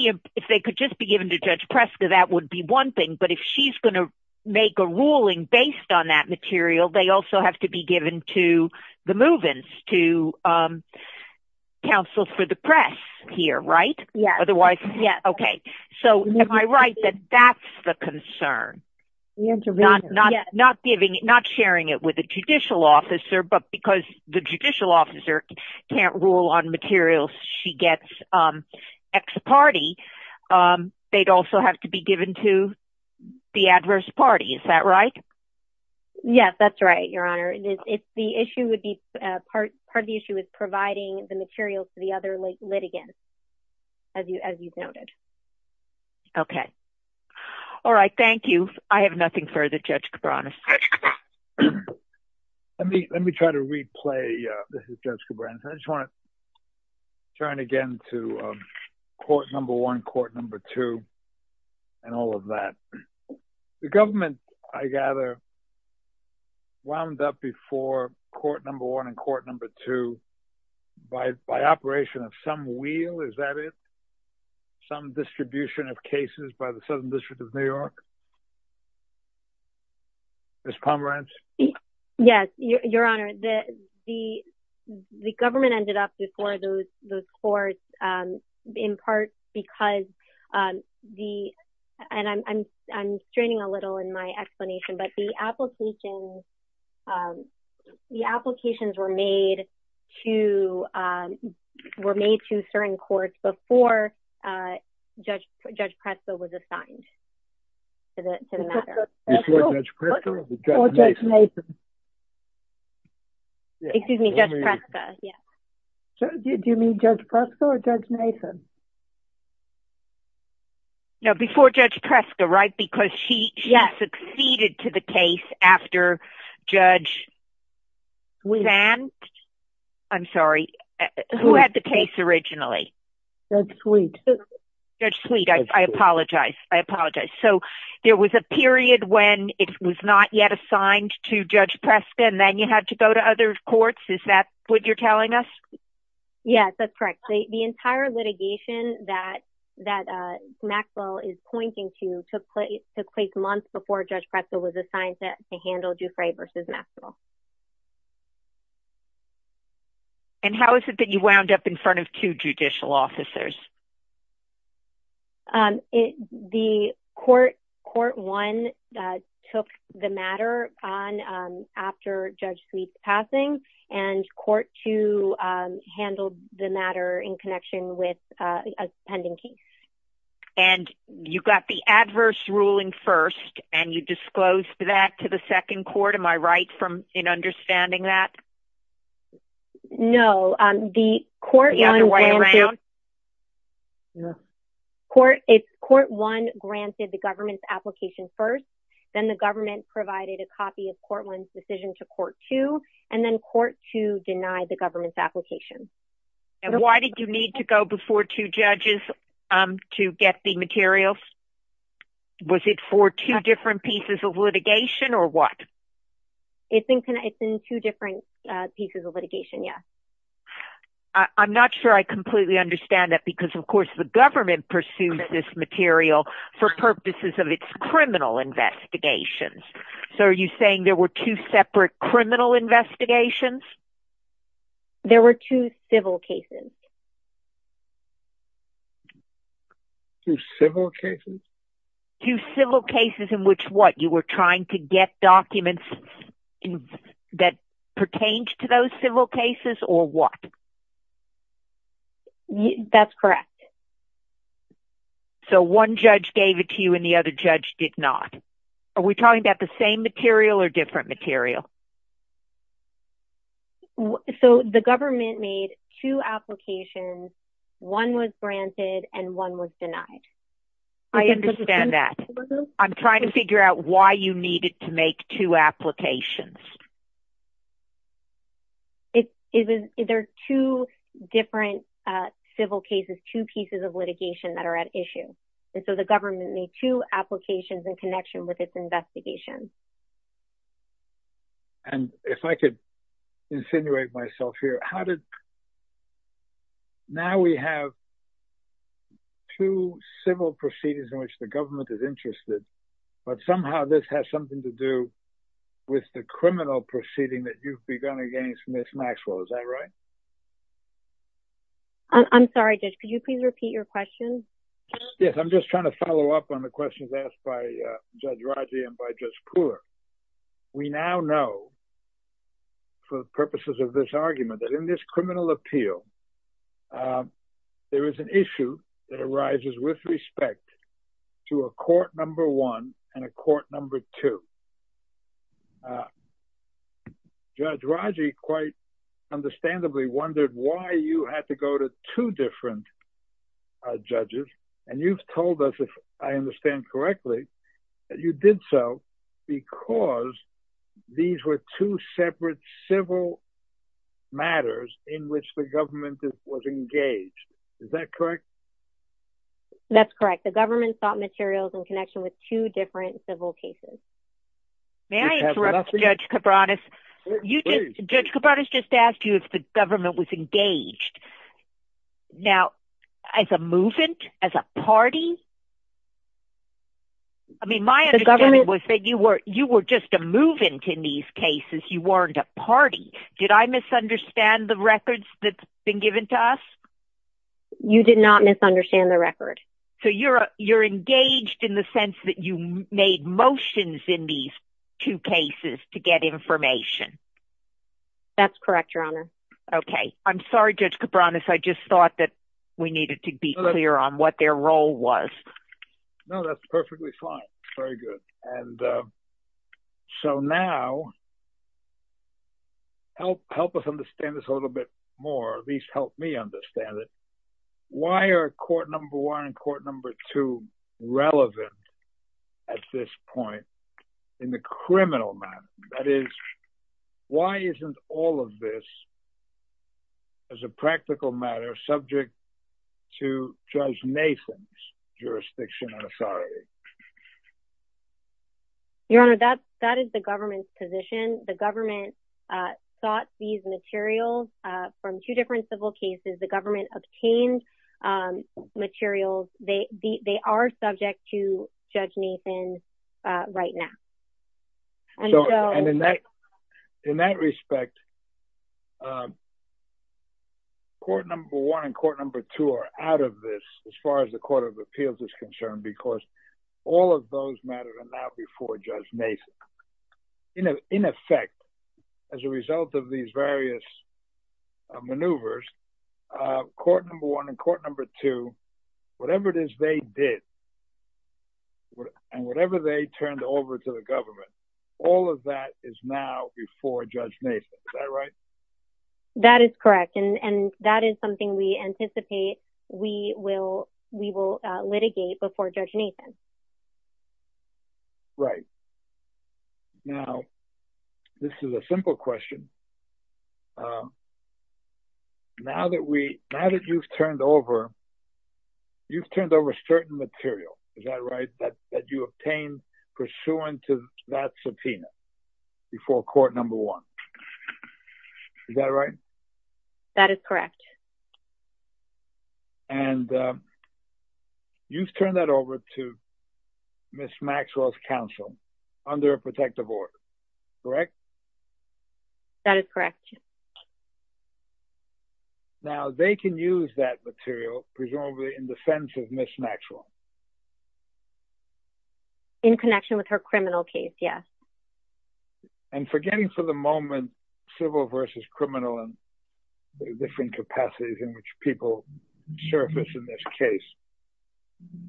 be given to Judge Preska, that would be one thing. But if she's going to make a ruling based on that material, they also have to be given to the move-ins, to counsel for the press here, right? So am I right that that's the concern? Not sharing it with the judicial officer, but because the judicial officer can't rule on materials she gets ex-party, they'd also have to be given to the adverse party. Is that right? Yes, that's right, Your Honor. Part of the issue is providing the materials to the other litigants, as you've noted. Okay. All right, thank you. I have nothing further, Judge Cabranes. Let me try to replay, this is Judge Cabranes. I just want to turn again to court number one, court number two, and all of that. The government, I gather, wound up before court number one and court number two by operation of some wheel, is that it? Some distribution of cases by the Southern District of New York? Ms. Pomerantz? Yes, Your Honor. The government ended up before those courts in part because the, and I'm straining a little in my explanation, but the applications, the applications were made to, were made to certain courts before Judge Presto was assigned to the matter. Before Judge Presto or Judge Nathan? Excuse me, Judge Presto, yes. Do you mean Judge Presto or Judge Nathan? No, before Judge Presto, right? Because she succeeded to the case after Judge Van, I'm sorry, who had the case originally? Judge Sweet. Judge Sweet, I apologize, I apologize. So there was a period when it was not yet assigned to Judge Presto and then you had to go to other courts, is that what you're telling us? Yes, that's correct. The entire litigation that Maxwell is pointing to took place months before Judge Presto was assigned to handle Dufresne versus Maxwell. And how is it that you wound up in front of two judicial officers? The court, court one took the matter on after Judge Sweet's passing and court two handled the matter in connection with a pending case. And you got the adverse ruling first and you disclosed that to the second court, am I right in understanding that? No, the court- The other way around? No. Court one granted the government's application first, then the government provided a copy of court one's decision to court two and then court two denied the government's application. And why did you need to go before two judges to get the materials? Was it for two different pieces of litigation or what? It's in two different pieces of litigation, yes. I'm not sure I completely understand that because of course the government pursues this material for purposes of its criminal investigations. So are you saying there were two separate criminal investigations? There were two civil cases. Two civil cases? Two civil cases in which what? You were trying to get documents that pertained to those civil cases or what? That's correct. So one judge gave it to you and the other judge did not. Are we talking about the same material or different material? So the government made two applications, one was granted and one was denied. I understand that. I'm trying to figure out why you needed to make two applications. There are two different civil cases, two pieces of litigation that are at issue. And so the government made two applications in connection with its investigation. And if I could insinuate myself here, now we have two civil proceedings in which the government is interested, but somehow this has something to do with the criminal proceeding that you've begun against Ms. Maxwell. Is that right? I'm sorry, Judge, could you please repeat your question? Yes, I'm just trying to follow up on the questions asked by Judge Raji and by Judge Pooler. We now know, for the purposes of this argument, that in this criminal appeal, there is an issue that arises with respect to a court number one and a court number two. Judge Raji quite understandably wondered why you had to go to two different judges. And you've told us, if I understand correctly, that you did so because these were two separate civil matters in which the government was engaged. Is that correct? That's correct. The government sought materials in connection with two different civil cases. May I interrupt Judge Cabranes? Judge Cabranes just asked you if the government was engaged. Now, as a movant, as a party, I mean, my understanding was that you were just a movant in these cases. You weren't a party. Did I misunderstand the records that's been given to us? You did not misunderstand the record. So you're engaged in the sense that you made motions in these two cases to get information. That's correct, Your Honor. Okay. I'm sorry, Judge Cabranes. I just thought that we needed to be clear on what their role was. No, that's perfectly fine. Very good. So now, help us understand this a little bit more, at least help me understand it. Why are court number one and court number two relevant at this point in the criminal matter? That is, why isn't all of this, as a practical matter, subject to Judge Mason's jurisdiction and authority? Your Honor, that is the government's position. The government sought these materials from two different civil cases. The government obtained materials. They are subject to Judge Mason right now. In that respect, court number one and court number two are out of this as far as the Court of Appeals is concerned because all of those matters are now before Judge Mason. In effect, as a result of these various maneuvers, court number one and court number two, whatever it is they did and whatever they turned over to the government, all of that is now before Judge Mason. Is that right? That is correct. And that is something we anticipate we will litigate before Judge Mason. Right. Now, this is a simple question. Now that we, now that you've turned over, you've turned over certain material. Is that right? That you obtained pursuant to that subpoena before court number one. Is that right? That is correct. And you've turned that over to Ms. Maxwell's counsel under a protective order, correct? That is correct. Now, they can use that material presumably in defense of Ms. Maxwell. In connection with her criminal case, yes. And forgetting for the moment civil versus criminal and the different capacities in which people surface in this case,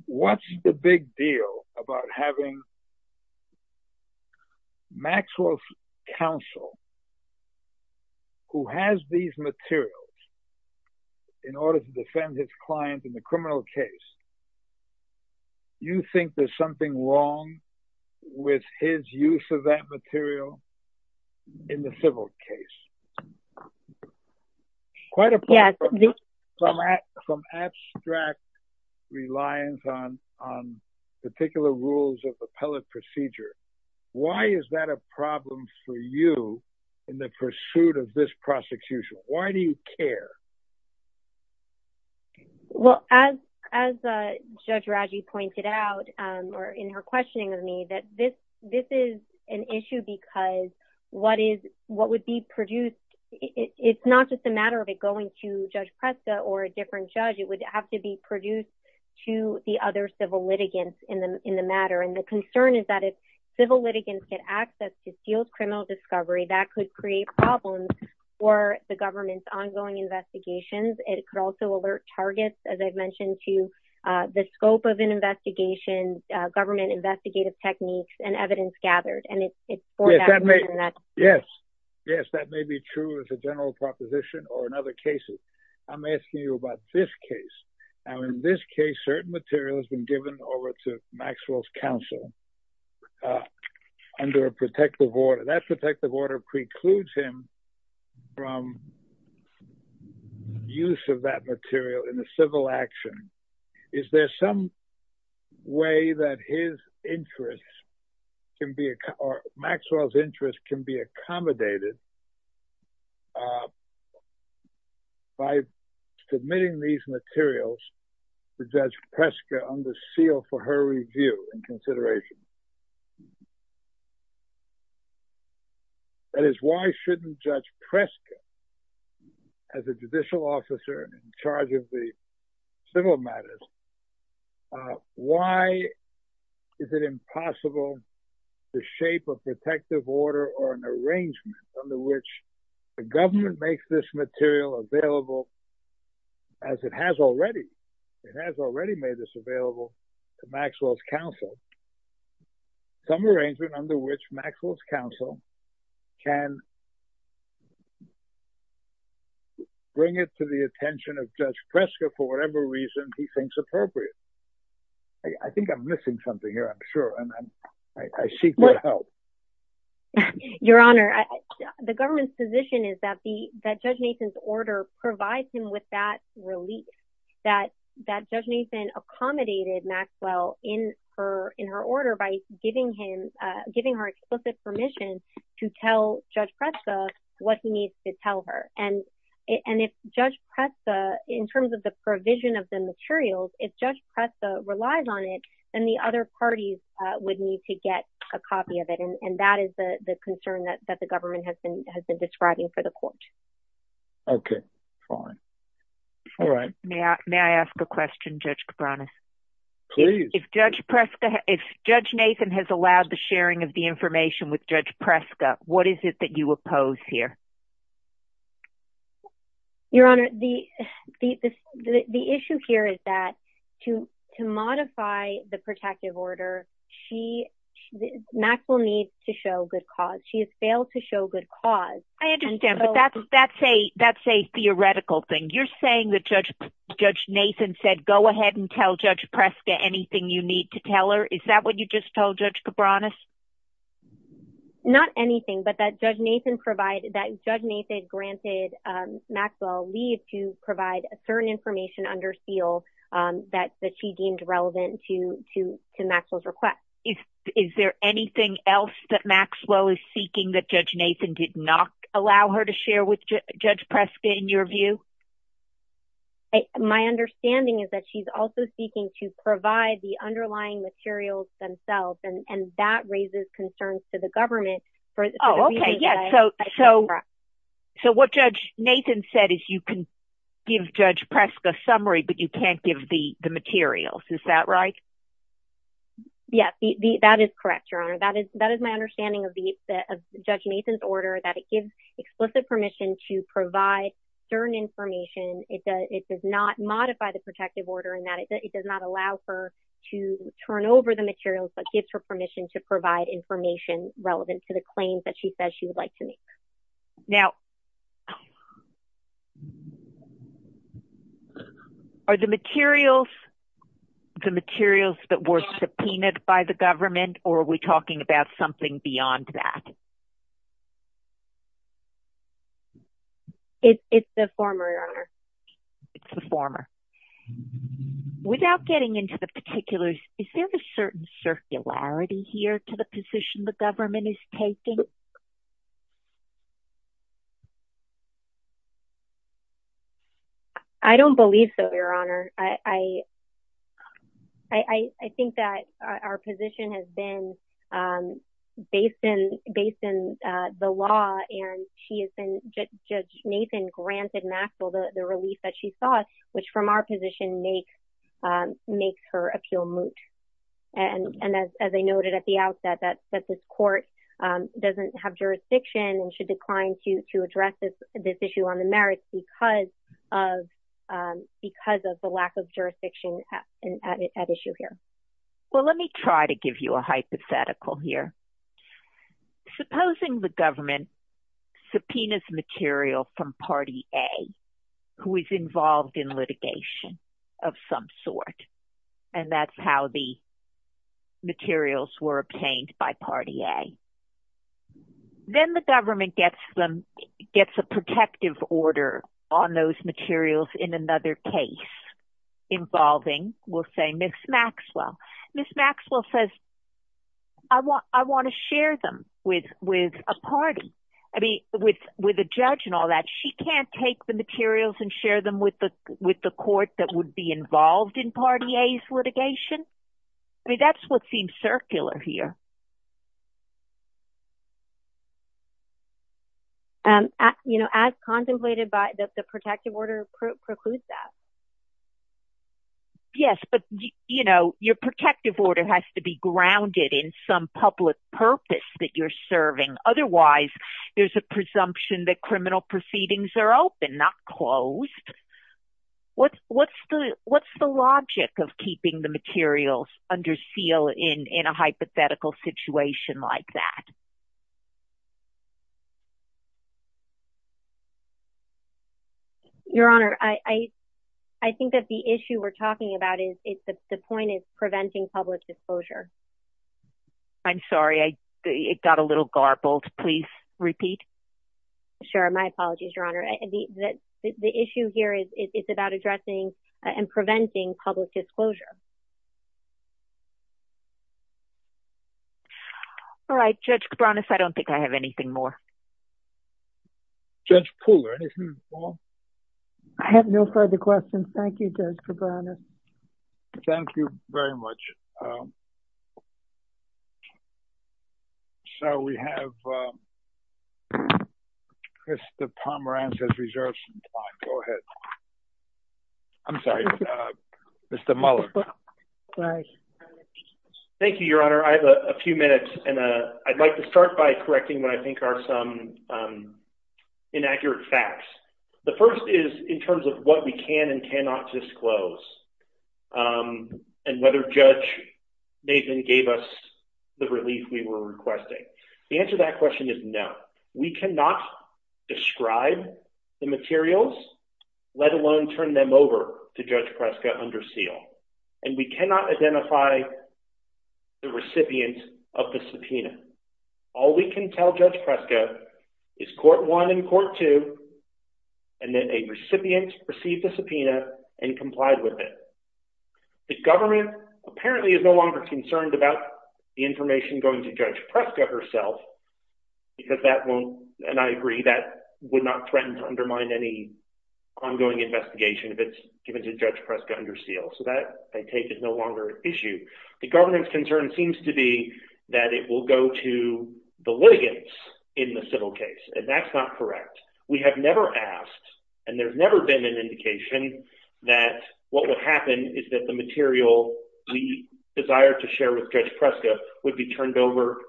what's the big deal about having Maxwell's counsel who has these materials in order to defend his client in the criminal case? You think there's something wrong with his use of that material in the civil case? Yeah. From abstract reliance on particular rules of appellate procedure. Why is that a problem for you in the pursuit of this prosecution? Why do you care? Well, as Judge Raji pointed out or in her questioning of me, that this is an issue because what would be produced, it's not just a matter of it going to Judge Presta or a different judge. It would have to be produced to the other civil litigants in the matter. And the concern is that if civil litigants get access to sealed criminal discovery, that could create problems for the government's ongoing investigations. It could also alert targets, as I've mentioned, to the scope of an investigation, government investigative techniques and evidence gathered. Yes. Yes, that may be true as a general proposition or in other cases. I'm asking you about this case. Now, in this case, certain material has been given over to Maxwell's counsel under a protective order. That protective order precludes him from use of that material in a civil action. Is there some way that his interests or Maxwell's interests can be accommodated by submitting these materials to Judge Presta under seal for her review and consideration? That is, why shouldn't Judge Presta, as a judicial officer in charge of the civil matters, why is it impossible to shape a protective order or an arrangement under which the government makes this material available as it has already? It has already made this available to Maxwell's counsel. Some arrangement under which Maxwell's counsel can bring it to the attention of Judge Presta for whatever reason he thinks appropriate. I think I'm missing something here, I'm sure, and I seek your help. Your Honor, the government's position is that Judge Mason's order provides him with that relief, that Judge Mason accommodated Maxwell in her order by giving her explicit permission to tell Judge Presta what he needs to tell her. And if Judge Presta, in terms of the provision of the materials, if Judge Presta relies on it, then the other parties would need to get a copy of it. And that is the concern that the government has been describing for the court. Okay, fine. All right. May I ask a question, Judge Cabranes? Please. If Judge Nathan has allowed the sharing of the information with Judge Presta, what is it that you oppose here? Your Honor, the issue here is that to modify the protective order, Maxwell needs to show good cause. She has failed to show good cause. I understand, but that's a theoretical thing. You're saying that Judge Nathan said, go ahead and tell Judge Presta anything you need to tell her. Is that what you just told Judge Cabranes? Not anything, but that Judge Nathan provided, that Judge Nathan granted Maxwell leave to provide a certain information under seal that she deemed relevant to Maxwell's request. Is there anything else that Maxwell is seeking that Judge Nathan did not allow her to share with Judge Presta, in your view? My understanding is that she's also seeking to provide the underlying materials themselves, and that raises concerns to the government. Oh, okay, yeah. So what Judge Nathan said is you can give Judge Presta a summary, but you can't give the materials. Is that right? Yes, that is correct, Your Honor. That is my understanding of Judge Nathan's order, that it gives explicit permission to provide certain information. It does not modify the protective order in that it does not allow her to turn over the materials, but gives her permission to provide information relevant to the claims that she says she would like to make. Now, are the materials the materials that were subpoenaed by the government, or are we talking about something beyond that? It's the former, Your Honor. It's the former. Without getting into the particulars, is there a certain circularity here to the position the government is taking? I don't believe so, Your Honor. I think that our position has been based in the law, and Judge Nathan granted Maxwell the release that she sought, which from our position makes her appeal moot. As I noted at the outset, that this court doesn't have jurisdiction, and she declined to address this issue on the merits because of the lack of jurisdiction at issue here. Well, let me try to give you a hypothetical here. Supposing the government subpoenas material from Party A, who is involved in litigation of some sort, and that's how the materials were obtained by Party A. Then the government gets them, gets a protective order on those materials in another case involving, we'll say, Ms. Maxwell. Ms. Maxwell says, I want to share them with a party, with a judge and all that. She can't take the materials and share them with the court that would be involved in Party A's litigation? I mean, that's what seems circular here. As contemplated by, the protective order precludes that. Yes, but your protective order has to be grounded in some public purpose that you're serving. Otherwise, there's a presumption that criminal proceedings are open, not closed. What's the logic of keeping the materials under seal in a hypothetical situation like that? Your Honor, I think that the issue we're talking about is the point of preventing public disclosure. I'm sorry. It got a little garbled. Please repeat. Sure. My apologies, Your Honor. The issue here is it's about addressing and preventing public disclosure. All right. Judge Cabranes, I don't think I have anything more. Judge Poole, anything more? I have no further questions. Thank you, Judge Cabranes. Thank you very much. So, we have Christopher Pomerantz has reserved some time. Go ahead. I'm sorry. Mr. Muller. Go ahead. Thank you, Your Honor. I have a few minutes. I'd like to start by correcting what I think are some inaccurate facts. The first is in terms of what we can and cannot disclose and whether Judge Nathan gave us the relief we were requesting. The answer to that question is no. We cannot describe the materials, let alone turn them over to Judge Preska under seal. And we cannot identify the recipient of the subpoena. All we can tell Judge Preska is court one and court two and then a recipient received the subpoena and complied with it. The government apparently is no longer concerned about the information going to Judge Preska herself because that won't, and I agree, that would not threaten to undermine any ongoing investigation if it's given to Judge Preska under seal. So that, I take, is no longer an issue. The government's concern seems to be that it will go to the litigants in the civil case. And that's not correct. We have never asked, and there's never been an indication that what would happen is that the material we desire to share with Judge Preska would be turned over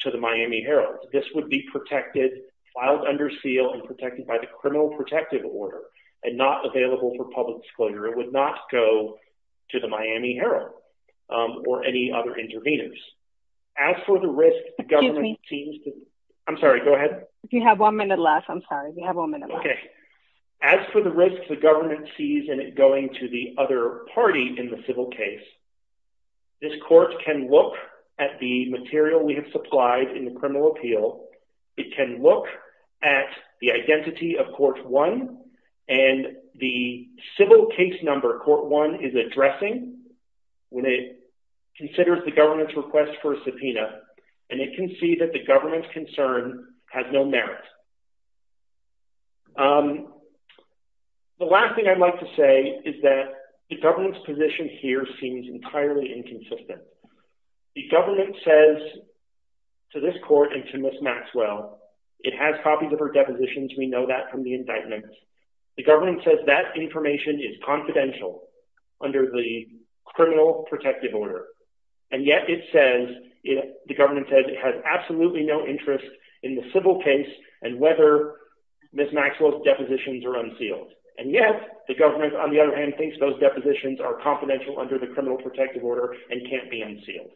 to the Miami Herald. This would be protected, filed under seal and protected by the criminal protective order and not available for public disclosure. It would not go to the Miami Herald or any other interveners. As for the risk, the government seems to... Excuse me. I'm sorry, go ahead. If you have one minute left, I'm sorry. You have one minute left. Okay. As for the risk the government sees in it going to the other party in the civil case, this court can look at the material we have supplied in the criminal appeal. It can look at the identity of Court 1 and the civil case number Court 1 is addressing when it considers the government's request for a subpoena. And it can see that the government's concern has no merit. The last thing I'd like to say is that the government's position here seems entirely inconsistent. The government says to this court and to Ms. Maxwell, it has copies of her depositions. We know that from the indictments. The government says that information is confidential under the criminal protective order. And yet it says, the government says it has absolutely no interest in the civil case and whether Ms. Maxwell's depositions are unsealed. And yet the government, on the other hand, thinks those depositions are confidential under the criminal protective order and can't be unsealed.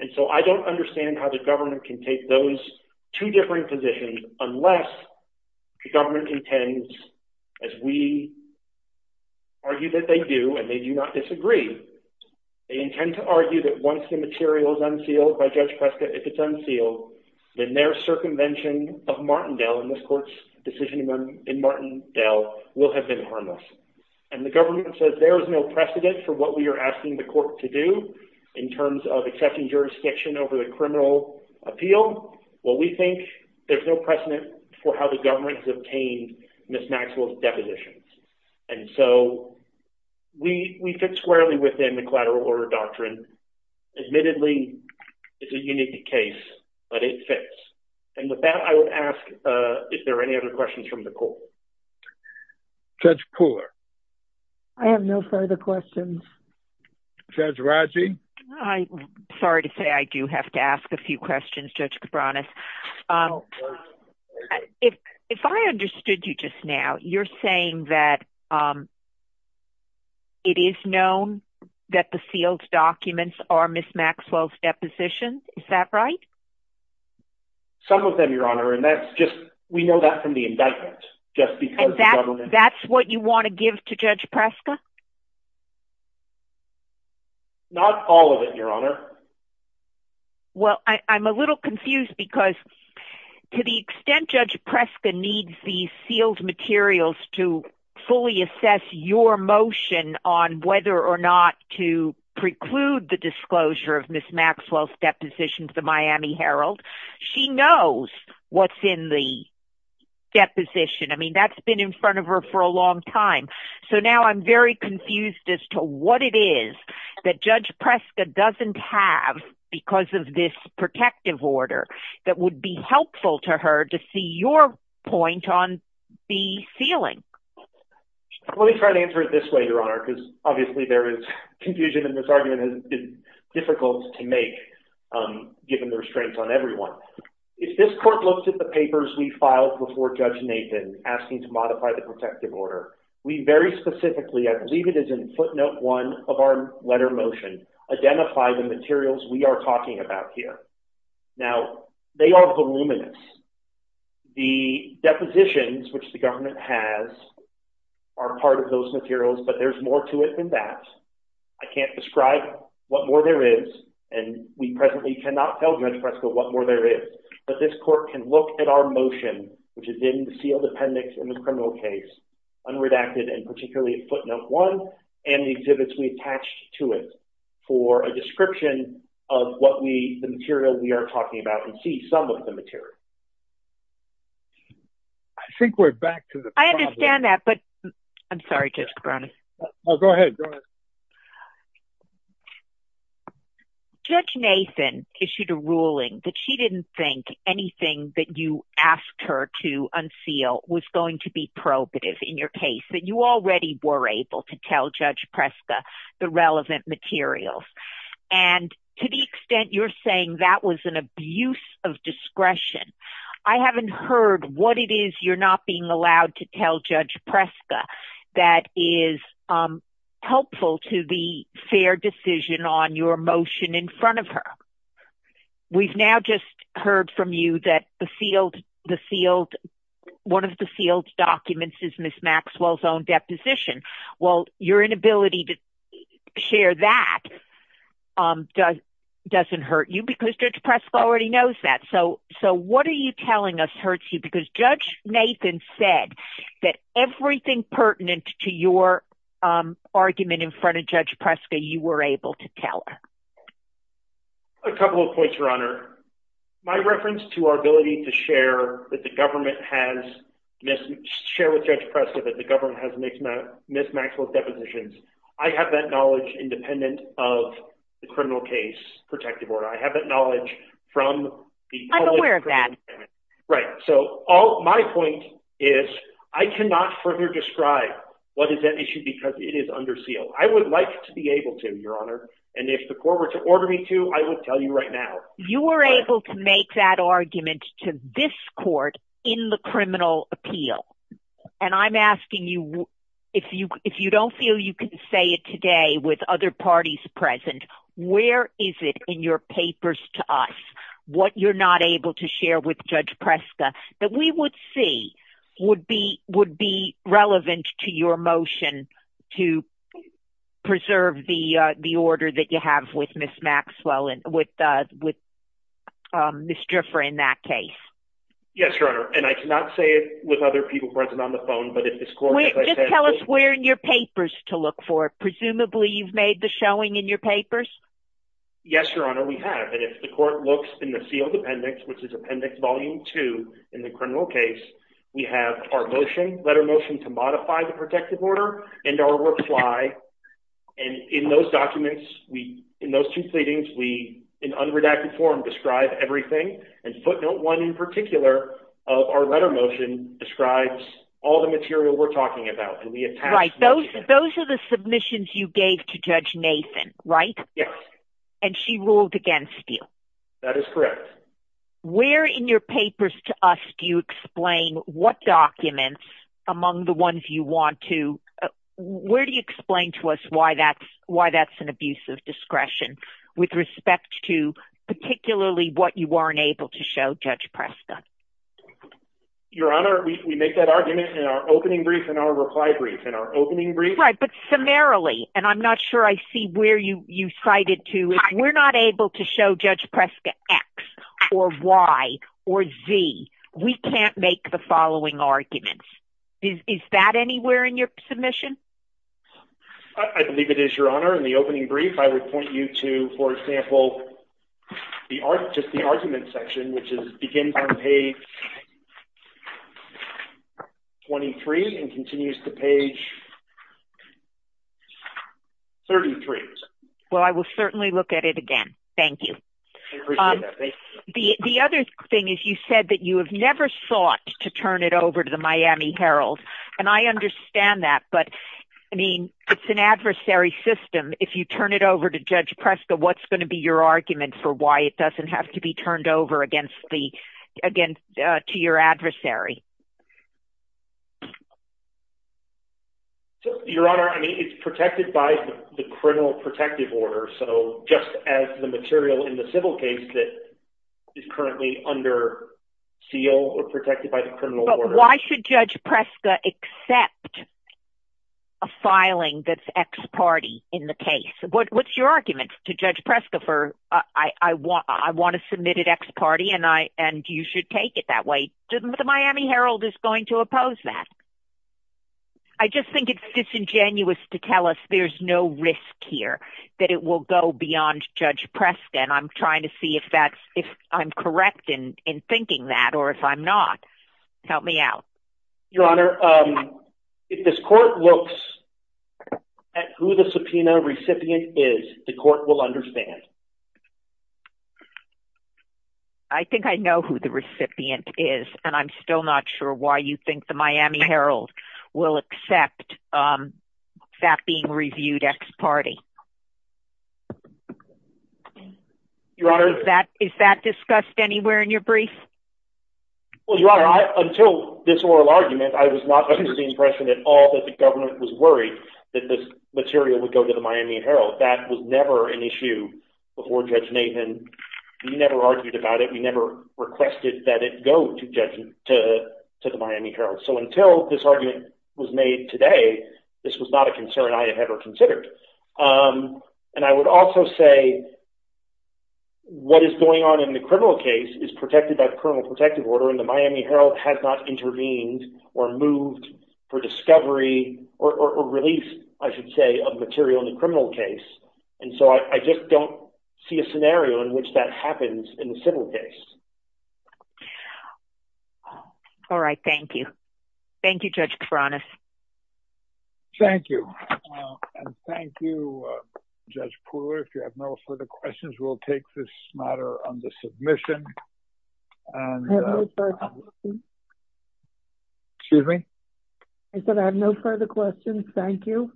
And so I don't understand how the government can take those two different positions unless the government intends, as we argue that they do, and they do not disagree, they intend to argue that once the material is unsealed by Judge Prescott, if it's unsealed, then their circumvention of Martindale and this court's decision in Martindale will have been harmless. And the government says there is no precedent for what we are asking the court to do in terms of accepting jurisdiction over the criminal appeal. Well, we think there's no precedent for how the government has obtained Ms. Maxwell's depositions. And so we fit squarely within the collateral order doctrine. Admittedly, it's a unique case but it fits. And with that, I would ask if there are any other questions from the court. Judge Koehler. I have no further questions. Judge Raji. I'm sorry to say I do have to ask a few questions, Judge Cabranes. If I understood you just now, you're saying that it is known that the sealed documents are Ms. Maxwell's depositions. Is that right? Some of them, Your Honor, and that's just we know that from the indictment. And that's what you want to give to Judge Preska? Not all of it, Your Honor. Well, I'm a little confused because to the extent Judge Preska needs the sealed materials to fully assess your motion on whether or not to preclude the disclosure of Ms. Maxwell's depositions to the Miami Herald, she knows what's in the deposition. I mean, that's been in front of her for a long time. So now I'm very confused as to what it is that Judge Preska doesn't have because of this protective order that would be helpful to her to see your point on the sealing. Let me try to answer it this way, Your Honor, because obviously there is confusion and this argument is difficult to make given the restraints on everyone. If this court looks at the papers we filed before Judge Nathan asking to modify the protective order, we very specifically, I believe it is in footnote 1 of our letter motion, identify the materials we are talking about here. Now, they are voluminous. The depositions, which the government has, are part of those materials, but there's more to it than that. I can't describe what more there is, and we presently cannot tell Judge Preska what more there is, but this court can look at our motion, which is in the sealed appendix in the criminal case, unredacted and particularly footnote 1 and the exhibits we attached to it for a description of what we, the material we are talking about and see some of the material. I think we're back to the problem. I understand that, but I'm sorry, Judge Cabrone. Go ahead. Judge Nathan issued a ruling that she didn't think anything that you asked her to unseal was going to be probative in your case, that you already were able to tell Judge Preska the relevant materials, and to the extent you're saying that was an abuse of discretion, I haven't heard what it is you're not being allowed to tell Judge Preska that is helpful to the fair decision on your motion in front of her. We've now just heard from you that one of the sealed documents is Ms. Maxwell's own deposition. Well, your inability to share that doesn't hurt you because Judge Preska already knows that. So what are you telling us hurts you? Because Judge Nathan said that everything pertinent to your argument in front of Judge Preska, you were able to tell her. A couple of points, Your Honor. My reference to our ability to share that the government has, share with Judge Preska that the government has Ms. Maxwell's depositions, I have that knowledge independent of the criminal case protective order. I have that knowledge from the- I'm aware of that. Right. So my point is I cannot further describe what is at issue because it is under seal. I would like to be able to, Your Honor. And if the court were to order me to, I would tell you right now. You were able to make that argument to this court in the criminal appeal. And I'm asking you, if you don't feel you can say it today with other parties present, where is it in your papers to us? What you're not able to share with Judge Preska that we would see would be relevant to your motion to preserve the order that you have with Ms. Maxwell and with Ms. Driffer in that case. Yes, Your Honor. And I cannot say it with other people present on the phone, but if this court- Just tell us where in your papers to look for it. Presumably you've made the showing in your papers. Yes, Your Honor, we have. And if the court looks in the sealed appendix, which is Appendix Volume 2 in the criminal case, we have our motion, letter motion to modify the protective order and our reply. And in those documents, in those two pleadings, we, in unredacted form, describe everything. And footnote one in particular of our letter motion describes all the material we're talking about. Right. Those are the submissions you gave to Judge Nathan, right? Yes. And she ruled against you. That is correct. Where in your papers to us do you explain what documents, among the ones you want to, where do you explain to us why that's an abuse of discretion with respect to particularly what you weren't able to show Judge Presta? Your Honor, we make that argument in our opening brief and our reply brief. In our opening brief- Right, but summarily, and I'm not sure I see where you cite it to, we're not able to show Judge Presta X or Y or Z. We can't make the following arguments. Is that anywhere in your submission? I believe it is, Your Honor. In the opening brief, I would point you to, for example, just the argument section, which is beginning on page 23 and continues to page 33. Well, I will certainly look at it again. Thank you. I appreciate that. Thank you. The other thing is you said that you have never sought to turn it over to the Miami Herald, and I understand that, but, I mean, it's an adversary system. If you turn it over to Judge Presta, what's going to be your argument for why it doesn't have to be turned over to your adversary? Your Honor, I mean, it's protected by the criminal protective order, so just as the material in the civil case that is currently under seal or protected by the criminal order. But why should Judge Presta accept a filing that's ex parte in the case? What's your argument to Judge Presta for, I want a submitted ex parte, and you should take it that way? The Miami Herald is going to oppose that. I just think it's disingenuous to tell us there's no risk here, that it will go beyond Judge Presta, and I'm trying to see if I'm correct in thinking that or if I'm not. Help me out. Your Honor, if this court looks at who the subpoena recipient is, the court will understand. I think I know who the recipient is, and I'm still not sure why you think the Miami Herald will accept that being reviewed ex parte. Your Honor. Is that discussed anywhere in your brief? Well, Your Honor, until this oral argument, I was not under the impression at all that the government was worried that this material would go to the Miami Herald. That was never an issue before Judge Nathan. We never argued about it. We never requested that it go to the Miami Herald. So until this argument was made today, this was not a concern I had ever considered. And I would also say, what is going on in the criminal case is protected by the criminal protective order, and the Miami Herald has not intervened or moved for discovery, or release, I should say, of material in the criminal case. And so I just don't see a scenario in which that happens in the civil case. All right. Thank you. Thank you, Judge Kiforanis. Thank you. And thank you, Judge Pooler. If you have no further questions, we'll take this matter under submission. I have no further questions. Excuse me? I said I have no further questions. Thank you.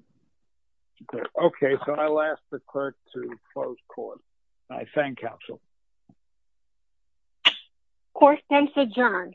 Okay. So I'll ask the clerk to close court. I thank counsel. Court is adjourned.